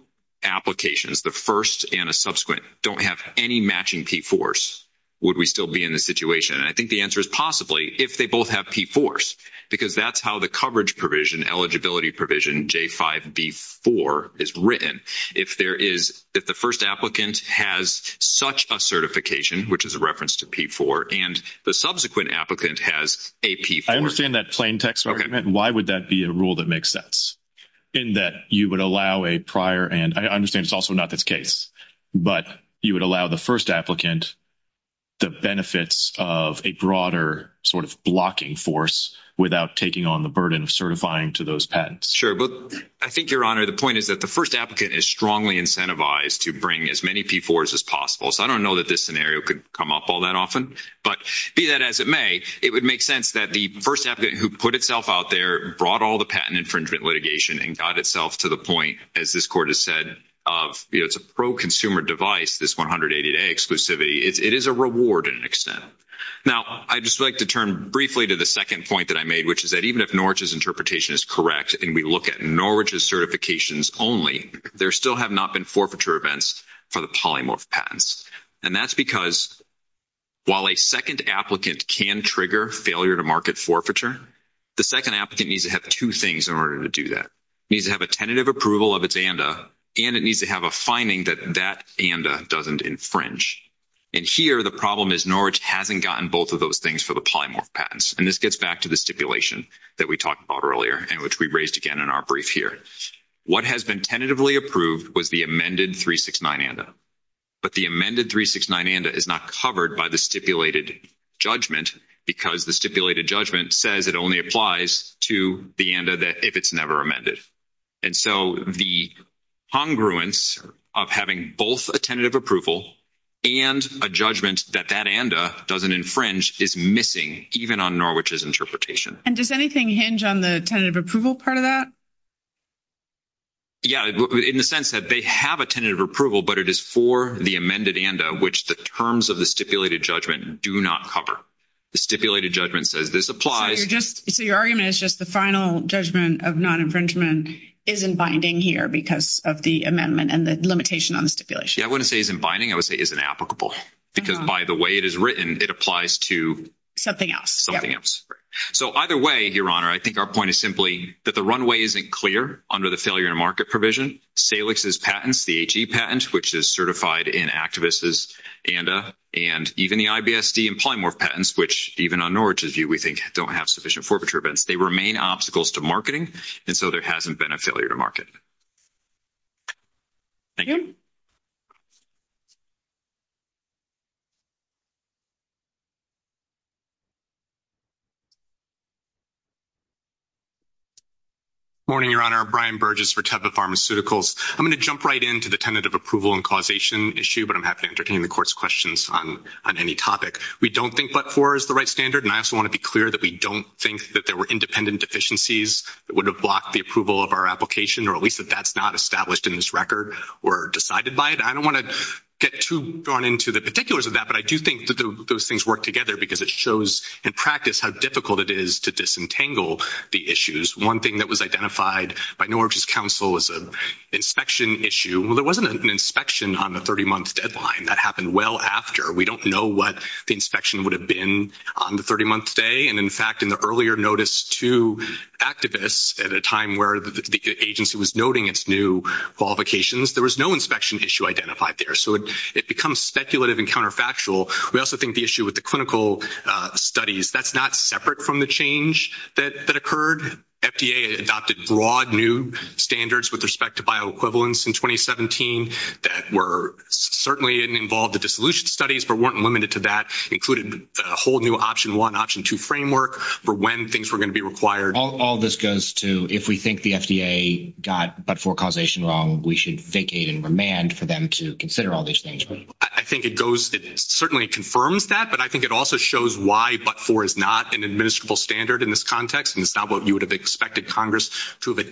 applications, the first and a subsequent, don't have any matching P4s, would we still be in this situation? And I think the answer is possibly if they both have P4s because that's how the coverage provision, eligibility provision, J5B4, is written. If the first applicant has such a certification, which is a reference to P4, and the subsequent applicant has a P4. I understand that plain text argument. Why would that be a rule that makes sense? In that you would allow a prior, and I understand it's also not this case, but you would allow the first applicant the benefits of a broader sort of blocking force without taking on the burden of certifying to those patents. Sure. But I think, Your Honor, the point is that the first applicant is strongly incentivized to bring as many P4s as possible. So, I don't know that this scenario could come up all that often. But be that as it may, it would make sense that the first applicant who put itself out there brought all the patent infringement litigation and got itself to the point, as this Court has said, of, you know, it's a pro-consumer device, this 180-day exclusivity. It is a reward in an extent. Now, I'd just like to turn briefly to the second point that I made, which is that even if Norwich's interpretation is correct and we look at Norwich's certifications only, there still have not been forfeiture events for the polymorph patents. And that's because while a second applicant needs to have two things in order to do that. It needs to have a tentative approval of its ANDA, and it needs to have a finding that that ANDA doesn't infringe. And here, the problem is Norwich hasn't gotten both of those things for the polymorph patents. And this gets back to the stipulation that we talked about earlier and which we raised again in our brief here. What has been tentatively approved was the amended 369 ANDA. But the amended 369 ANDA is not covered by the stipulated judgment because the stipulated judgment says it only applies to the ANDA if it's never amended. And so the congruence of having both a tentative approval and a judgment that that ANDA doesn't infringe is missing even on Norwich's interpretation. And does anything hinge on the tentative approval part of that? Yeah, in the sense that they have a tentative approval, but it is for the amended ANDA, which the terms of the stipulated judgment do not cover. The stipulated judgment says this applies. So your argument is just the final judgment of non-infringement isn't binding here because of the amendment and the limitation on the stipulation? Yeah, I wouldn't say it isn't binding. I would say it isn't applicable because by the way it is written, it applies to something else. So either way, Your Honor, I think our point is simply that the runway isn't clear under the failure to market provision. Salix's patents, the HE patent, which is certified in activists' ANDA, and even the IBSD and polymorph patents, which even on Norwich's view we think don't have sufficient forfeiture events, they remain obstacles to marketing. And so there hasn't been a failure to market. Thank you. Morning, Your Honor. Brian Burgess for Teva Pharmaceuticals. I'm going to jump right into the tentative approval and causation issue, but I'm happy to entertain the Court's questions on any topic. We don't think but-for is the right standard, and I also want to be clear that we don't think that there were independent deficiencies that would have blocked the approval of our application, or at least that that's not established in this record or decided by it. I don't want to get too drawn into the particulars of that, but I do think that those things work together because it shows in practice how difficult it is to disentangle the issues. One thing that was identified by Norwich's counsel was an inspection issue. There wasn't an inspection on the 30-month deadline. That happened well after. We don't know what the inspection would have been on the 30-month stay, and in fact, in the earlier notice to activists at a time where the agency was noting its new qualifications, there was no inspection issue identified there. So it becomes speculative and counterfactual. We also think the issue with the clinical studies, that's not separate from the change that occurred. FDA adopted broad new standards with respect to bioequivalence in 2017 that were certainly involved in dissolution studies but weren't limited to that, included a whole new option one, option two framework for when things were going to be required. All this goes to if we think the FDA got but-for causation wrong, we should vacate and remand for them to consider all these things, right? I think it certainly confirms that, but I think it also shows why but-for is not an administrable standard in this context, and it's not what you would have expected Congress to have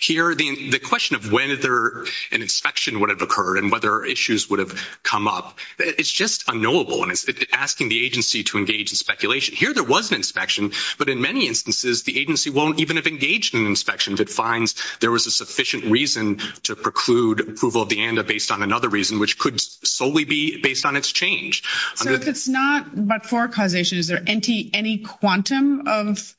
here. The question of when an inspection would have occurred and whether issues would have come up, it's just unknowable, and it's asking the agency to engage in speculation. Here there was an inspection, but in many instances, the agency won't even have engaged in an inspection that finds there was a sufficient reason to preclude approval of the ANDA based on another reason, which could solely be based on its change. So if it's not but-for causation, is there any quantum of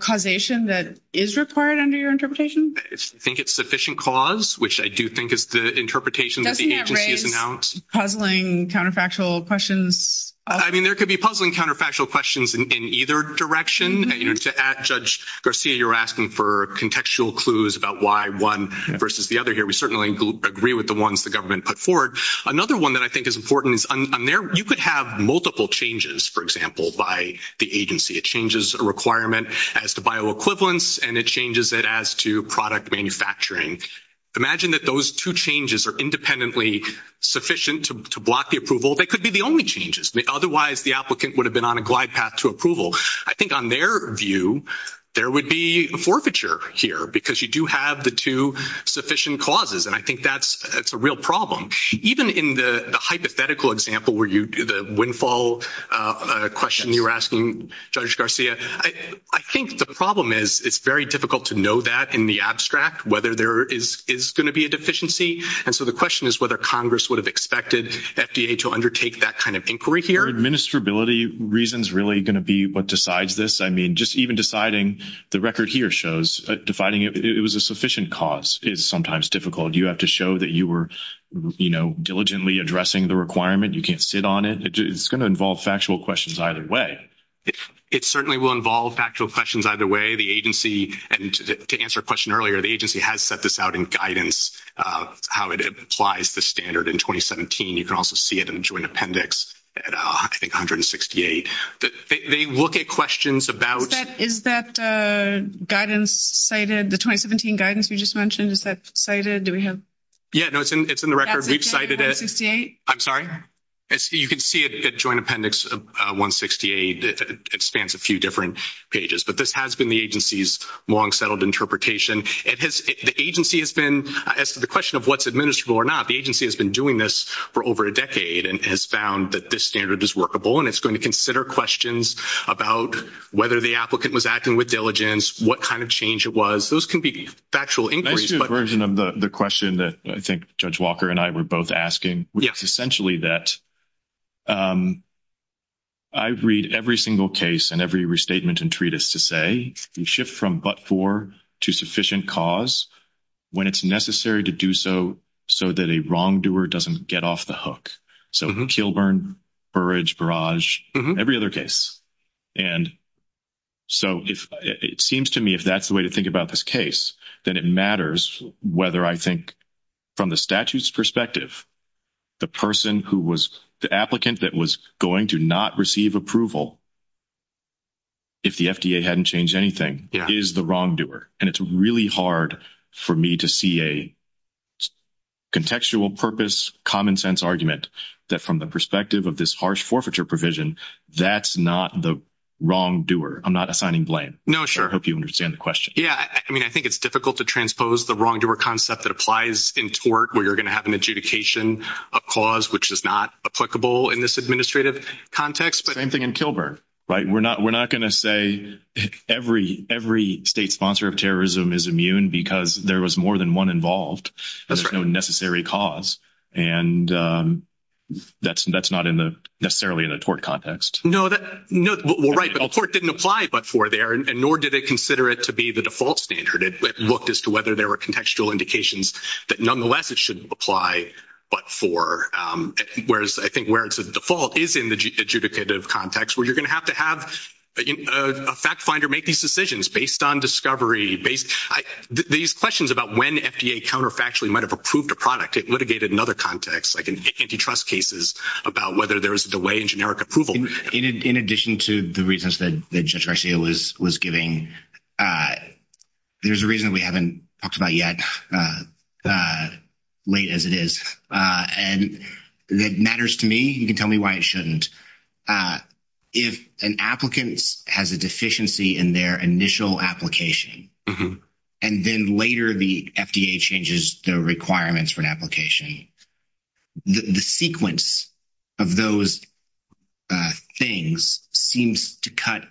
causation that is required under your interpretation? I think it's sufficient cause, which I do think is the interpretation that the agency has announced. Doesn't that raise puzzling counterfactual questions? I mean, there could be puzzling counterfactual questions in either direction. To add, Judge Garcia, you're asking for contextual clues about why one versus the other here. We certainly agree with the ones the government put forward. Another one that I think is important is on there, you could have multiple changes, for example, by the agency. It changes a requirement as to bioequivalence, and it changes it as to product manufacturing. Imagine that those two changes are independently sufficient to block the approval. They could be the only changes. Otherwise, the applicant would have been on a glide path to approval. I think on their view, there would be a forfeiture here because you do have the two sufficient causes, and I think that's a real problem. Even in the hypothetical example where the windfall question you were asking, Judge Garcia, I think the problem is it's very difficult to know that in the abstract, whether there is going to be a deficiency. And so the question is whether Congress would have expected FDA to undertake that kind of inquiry here. Are administrability reasons really going to be what decides this? I mean, just even deciding the record here shows, defining it was a sufficient cause is sometimes difficult. You have to show that you were diligently addressing the requirement. You can't sit on it. It's going to involve factual questions either way. It certainly will involve factual questions either way. The agency, and to answer a question earlier, the agency has set this out in guidance, how it applies the standard in 2017. You can also see it in the Joint Appendix, I think 168. They look at questions about... Is that guidance cited, the 2017 guidance we just mentioned, is that cited? Do we have... Yeah, no, it's in the record. We've cited it. 168? I'm sorry? You can see it at Joint Appendix 168. It spans a few different pages, but this has been the agency's long-settled interpretation. The agency has been, as to the question of what's administrable or not, the agency has been doing this for over a decade and has found that this standard is workable, and it's going to consider questions about whether the applicant was acting with diligence, what kind of change it was. Those can be factual inquiries, but... I see a version of the question that I think Judge Walker and I were both asking, which is essentially that I read every single case and every restatement and treatise to say, you shift from but-for to sufficient cause when it's necessary to do so that a wrongdoer doesn't get off the hook. So Kilburn, Burridge, Barrage, every other case. And so it seems to me if that's the way to think about this case, then it matters whether I think from the statute's perspective, the person who was... The applicant that was going to not receive approval, if the FDA hadn't changed anything, is the wrongdoer. And it's really hard for me to see a contextual purpose, common sense argument that from the perspective of this harsh forfeiture provision, that's not the wrongdoer. I'm not assigning blame. No, sure. I hope you understand the question. Yeah. I mean, I think it's difficult to transpose the wrongdoer concept that applies in tort where you're going to have an adjudication of cause, which is not applicable in this administrative context. Same thing in Kilburn, right? We're not going to say every state sponsor of terrorism is immune because there was more than one involved. That's no necessary cause. And that's not necessarily in a tort context. No. Well, right. But the court didn't apply but-for there and nor did they consider it to be the default standard. It looked as to whether there were contextual indications that nonetheless it shouldn't apply but-for. Whereas I think where the default is in the adjudicative context where you're going to have to have a fact finder make these decisions based on discovery. These questions about when FDA counterfactually might have approved a product, it litigated another context, like in antitrust cases, about whether there was a delay in generic approval. In addition to the reasons that Judge Garcia was giving, there's a reason that we haven't talked about yet, late as it is. And that matters to me. You can tell me why it shouldn't. If an applicant has a deficiency in their initial application and then later the FDA changes the requirements for an application, the sequence of those things seems to cut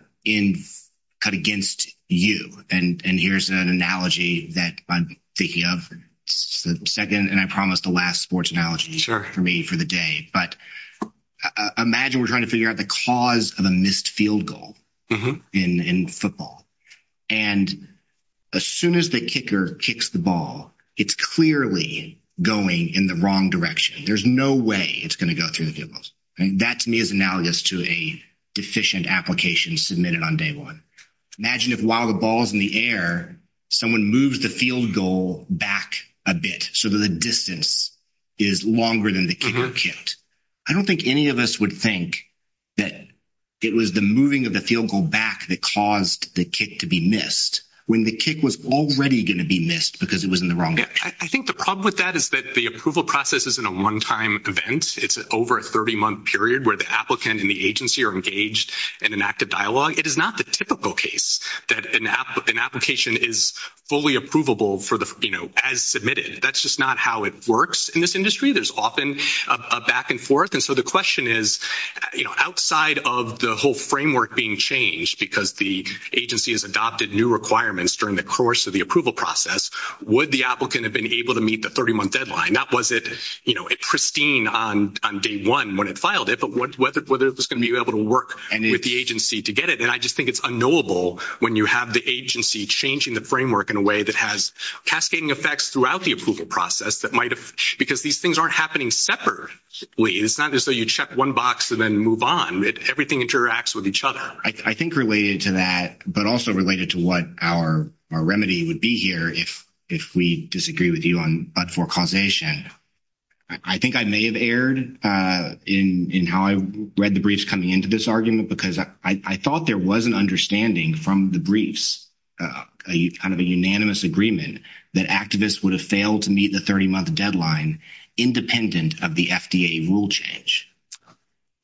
against you. And here's an analogy that I'm thinking of. It's the second and I promised the last sports analogy for me for the day. But imagine we're trying to figure out the cause of a missed field goal in football. And as soon as the kicker kicks the ball, it's clearly going in the wrong direction. There's no way it's going to go through the field goals. That to me is analogous to a deficient application submitted on day one. Imagine if while the ball is in the air, someone moves the field goal back a bit so that the distance is longer than the kicker kicked. I don't think any of us would think that it was the moving of the field goal back that caused the kick to be missed when the kick was already going to be missed because it was in the wrong direction. I think the problem with that is that the approval process isn't a one-time event. It's over a 30-month period where the applicant and the typical case that an application is fully approvable as submitted. That's just not how it works in this industry. There's often a back and forth. And so the question is, outside of the whole framework being changed because the agency has adopted new requirements during the course of the approval process, would the applicant have been able to meet the 30-month deadline? Not was it pristine on day one when it filed it, but whether it was going to be able to with the agency to get it? And I just think it's unknowable when you have the agency changing the framework in a way that has cascading effects throughout the approval process because these things aren't happening separately. It's not just so you check one box and then move on. Everything interacts with each other. I think related to that, but also related to what our remedy would be here if we disagree with you on but-for causation, I think I may have erred in how I read the briefs coming into this argument because I thought there was an understanding from the briefs, kind of a unanimous agreement that activists would have failed to meet the 30-month deadline independent of the FDA rule change.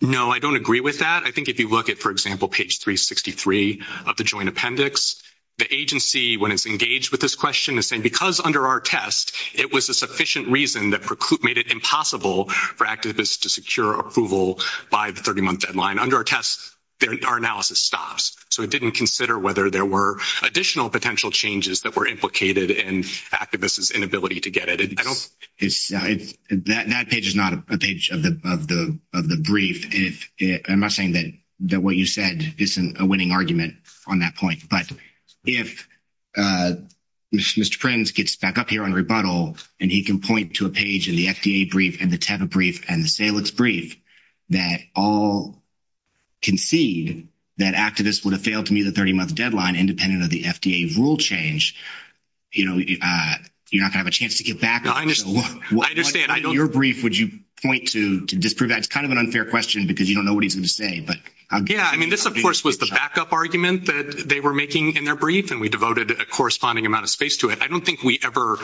No, I don't agree with that. I think if you look at, for example, page 363 of the joint appendix, the agency when it's engaged with this question is because under our test, it was a sufficient reason that made it impossible for activists to secure approval by the 30-month deadline. Under our test, our analysis stops, so it didn't consider whether there were additional potential changes that were implicated in activists' inability to get it. That page is not a page of the brief. I'm not saying that what you said isn't a winning argument on that point, but if Mr. Prince gets back up here on rebuttal and he can point to a page in the FDA brief and the Teva brief and the Salix brief that all concede that activists would have failed to meet the 30-month deadline independent of the FDA rule change, you know, you're not going to have a chance to get back. I understand. Your brief, would you point to disprove that? It's kind of an unfair question because you don't know what he's going to say. Yeah, I mean, this, of course, was the backup argument that they were making in their brief, and we devoted a corresponding amount of space to it. I don't think we ever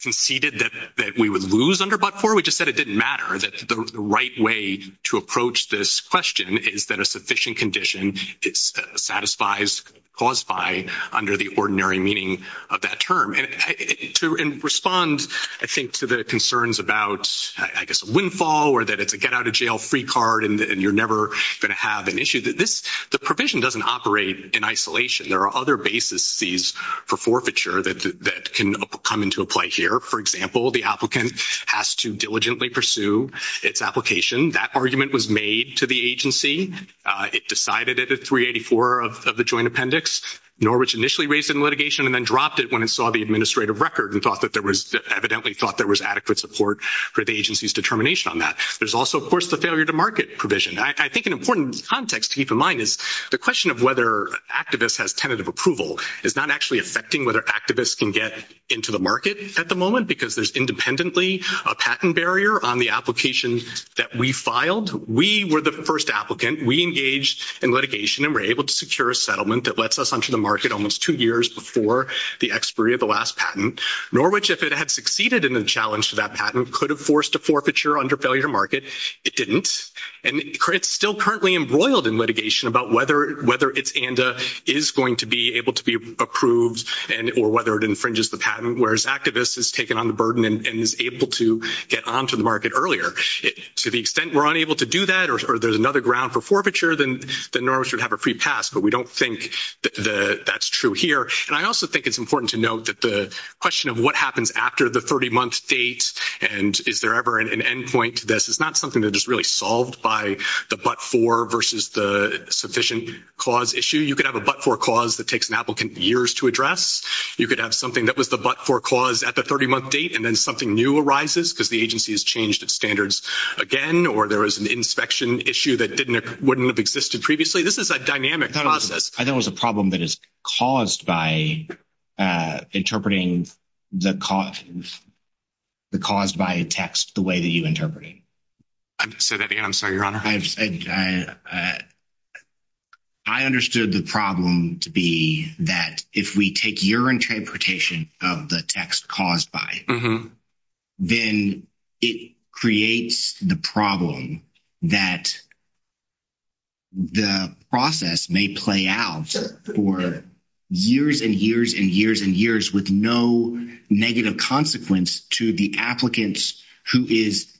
conceded that we would lose under but-for. We just said it didn't matter, that the right way to approach this question is that a sufficient condition satisfies, caused by, under the ordinary meaning of that term. And to respond, I think, to the concerns about, I guess, a windfall or that it's a get-out-of-jail-free card and you're never going to have an issue, the provision doesn't operate in isolation. There are other basis for forfeiture that can come into play here. For example, the applicant has to diligently pursue its application. That argument was made to the agency. It decided it at 384 of the joint appendix. Norwich initially raised it in litigation and then dropped it when it saw the administrative record and thought that there was, evidently thought there was adequate support for the agency's determination on that. There's also, of course, the failure-to-market provision. I think an important context to keep in mind is the question of whether activists has tentative approval is not actually affecting whether activists can get into the market at the moment because there's independently a patent barrier on the application that we filed. We were the first applicant. We engaged in litigation and were able to secure a settlement that lets us enter the market almost two years before the expiry of the last patent. Norwich, if it had succeeded in the challenge to that patent, could have forced a forfeiture under failure-to-market. It didn't. It's still currently embroiled in litigation about whether its ANDA is going to be able to be approved or whether it infringes the patent, whereas activists has taken on the burden and is able to get onto the market earlier. To the extent we're unable to do that or there's another ground for forfeiture, then Norwich would have a free pass, but we don't think that's true here. I also think it's important to note that the question of what happens after the 30-month date and is there ever an end point to this is not something that is really solved by the but-for versus the sufficient cause issue. You could have a but-for cause that takes an applicant years to address. You could have something that was the but-for cause at the 30-month date and then something new arises because the agency has changed its standards again or there was an inspection issue that wouldn't have existed previously. This is a dynamic process. I thought it was a problem that is caused by interpreting the caused by a text the way that you interpret it. Say that again. I'm sorry, your honor. I understood the problem to be that if we take your interpretation of the text caused by it, then it creates the problem that the process may play out for years and years and years and years with no negative consequence to the applicants who is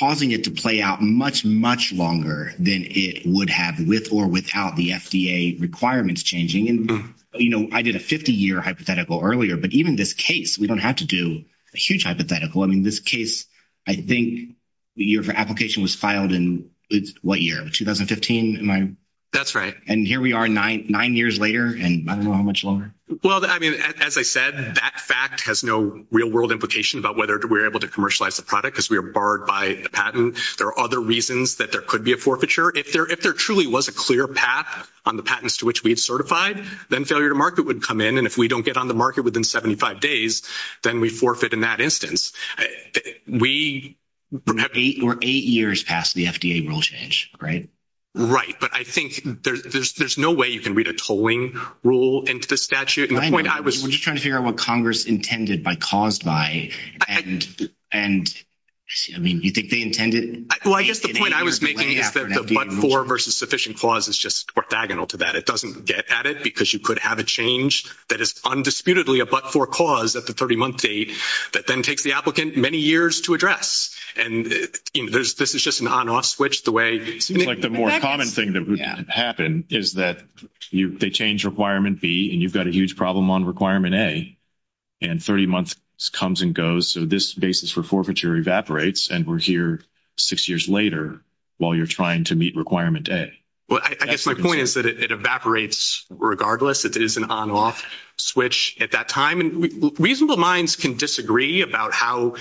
causing it to play out much, much longer than it would have with or without the FDA requirements changing. I did a 50-year hypothetical earlier, but even this case, we don't have to do a huge hypothetical. This case, I think your application was filed in what year? 2015? That's right. Here we are nine years later and I don't know how much longer. As I said, that fact has no real-world implication about whether we are able to commercialize the product because we are barred by the patent. There are other reasons that there could be a forfeiture. If there truly was a clear path on the patents to which we had certified, then failure to market would come in. If we don't get on the market within 75 days, then we forfeit in that instance. We're eight years past the FDA rule change, right? Right, but I think there's no way you can read a tolling rule into the statute. We're just trying to figure out what Congress intended by caused by. You think they intended? I guess the point I was making is that the get at it because you could have a change that is undisputedly a but-for cause at the 30-month date that then takes the applicant many years to address. This is just an on-off switch. The more common thing that would happen is that they change requirement B and you've got a huge problem on requirement A and 30 months comes and goes. This basis for forfeiture evaporates and we're here six years later while you're trying to meet requirement A. I guess my point is that it evaporates regardless. It is an on-off switch at that time and reasonable minds can disagree about how,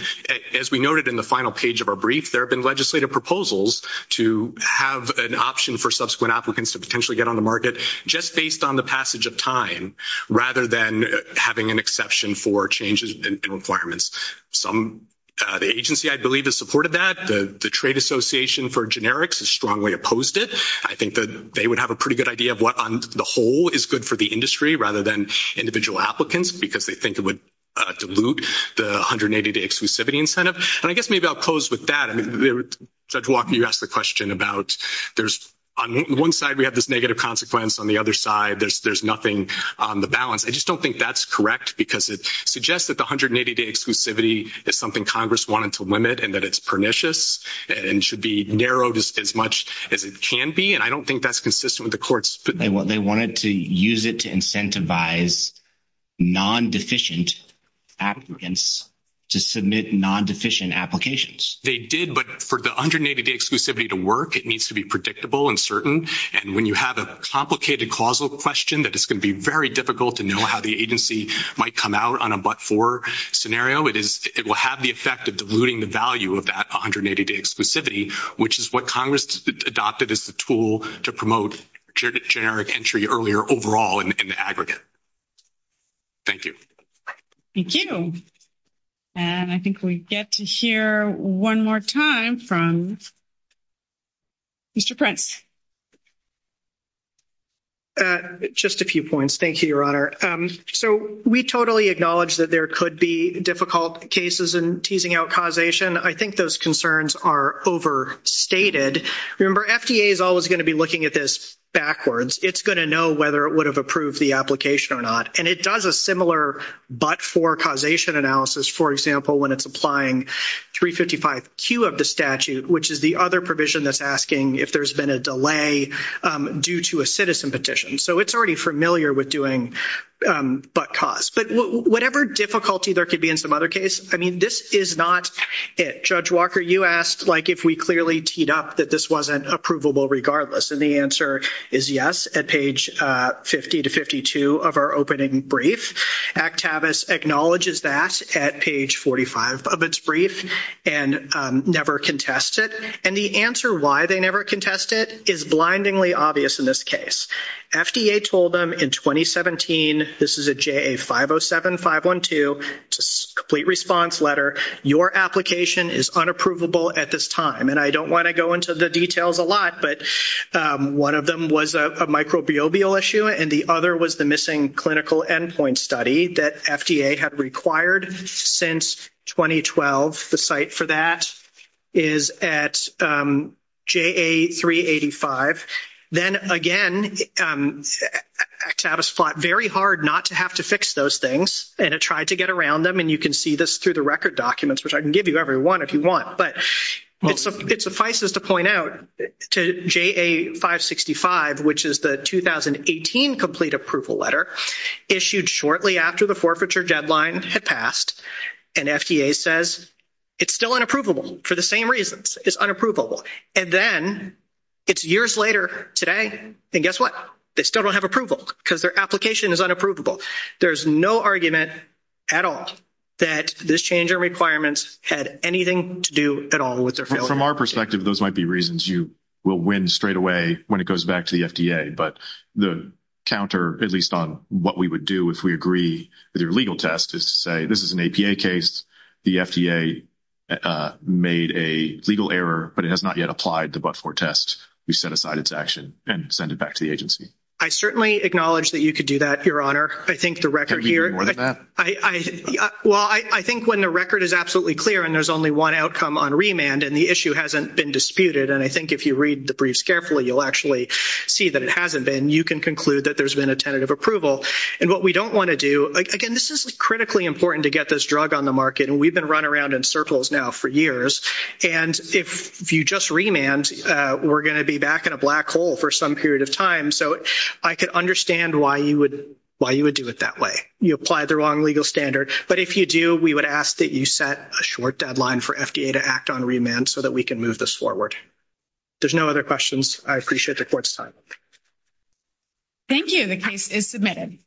as we noted in the final page of our brief, there have been legislative proposals to have an option for subsequent applicants to potentially get on the market just based on the passage of time rather than having an exception for changes in requirements. The agency, I believe, has supported that. The Trade Association for Generics has strongly opposed it. I think that would have a pretty good idea of what on the whole is good for the industry rather than individual applicants because they think it would dilute the 180-day exclusivity incentive. I guess maybe I'll close with that. Judge Walker, you asked the question about there's on one side we have this negative consequence, on the other side there's nothing on the balance. I just don't think that's correct because it suggests that the 180-day exclusivity is something Congress wanted to limit and that it's pernicious and should be narrowed as much as it can be. I don't think that's consistent with the court's opinion. They wanted to use it to incentivize non-deficient applicants to submit non-deficient applications. They did, but for the 180-day exclusivity to work, it needs to be predictable and certain. When you have a complicated causal question that it's going to be very difficult to know how the agency might come out on a but-for scenario, it will have the effect of diluting the value of that adopted as the tool to promote generic entry earlier overall in the aggregate. Thank you. Thank you. I think we get to hear one more time from Mr. Prince. Just a few points. Thank you, Your Honor. We totally acknowledge that there could be difficult cases in teasing out causation. I think those concerns are overstated. Remember, FDA is always going to be looking at this backwards. It's going to know whether it would have approved the application or not. It does a similar but-for causation analysis, for example, when it's applying 355Q of the statute, which is the other provision that's asking if there's been a delay due to a citizen petition. It's already familiar with doing but-cause. Whatever difficulty there could be in some other case, this is not it. Judge Walker, you asked if we clearly teed up that this wasn't approvable regardless. The answer is yes at page 50 to 52 of our opening brief. Actavis acknowledges that at page 45 of its brief and never contests it. The answer why they never contest it is blindingly obvious in this case. FDA told them in 2017, this is a JA 507512 complete response letter, your application is unapprovable at this time. I don't want to go into the details a lot, but one of them was a microbial issue and the other was the missing clinical endpoint study that FDA had required since 2012. The site for that is at JA 385. Then again, Actavis fought very hard not to have to fix those things and it tried to get around them. You can see this through the record documents, which I can give you every one if you want. It suffices to point out to JA 565, which is the 2018 complete approval letter issued shortly after the forfeiture deadline had passed. FDA says it's still unapprovable for the same reasons. It's unapprovable. Then it's years later today and guess what? They still don't have approval because their application is unapprovable. There's no argument at all that this change in requirements had anything to do at all with their failure. From our perspective, those might be reasons you will win straight away when it goes back to the FDA. The counter, at least on what we would do if we agree with your legal test, is to say this is an APA case. The FDA made a legal error, but it has not yet applied the but-for test. We set aside its action and send it back to the agency. I certainly acknowledge that you could do that, Your Honor. Can we do more than that? I think when the record is absolutely clear and there's only one outcome on remand and the issue hasn't been disputed, and I think if you read the briefs carefully, you'll actually see that it hasn't been. You can conclude that there's been a tentative approval. What we don't want to do, again, this is critically important to get this drug on the market and we've been running around in circles now for years. If you just remand, we're going to be back in a black hole for some period of time. I could understand why you would do it that way. You applied the wrong legal standard, but if you do, we would ask that you set a short deadline for FDA to act on remand so that we can move this forward. There's no other questions. I appreciate the Court's time. Thank you. The case is submitted.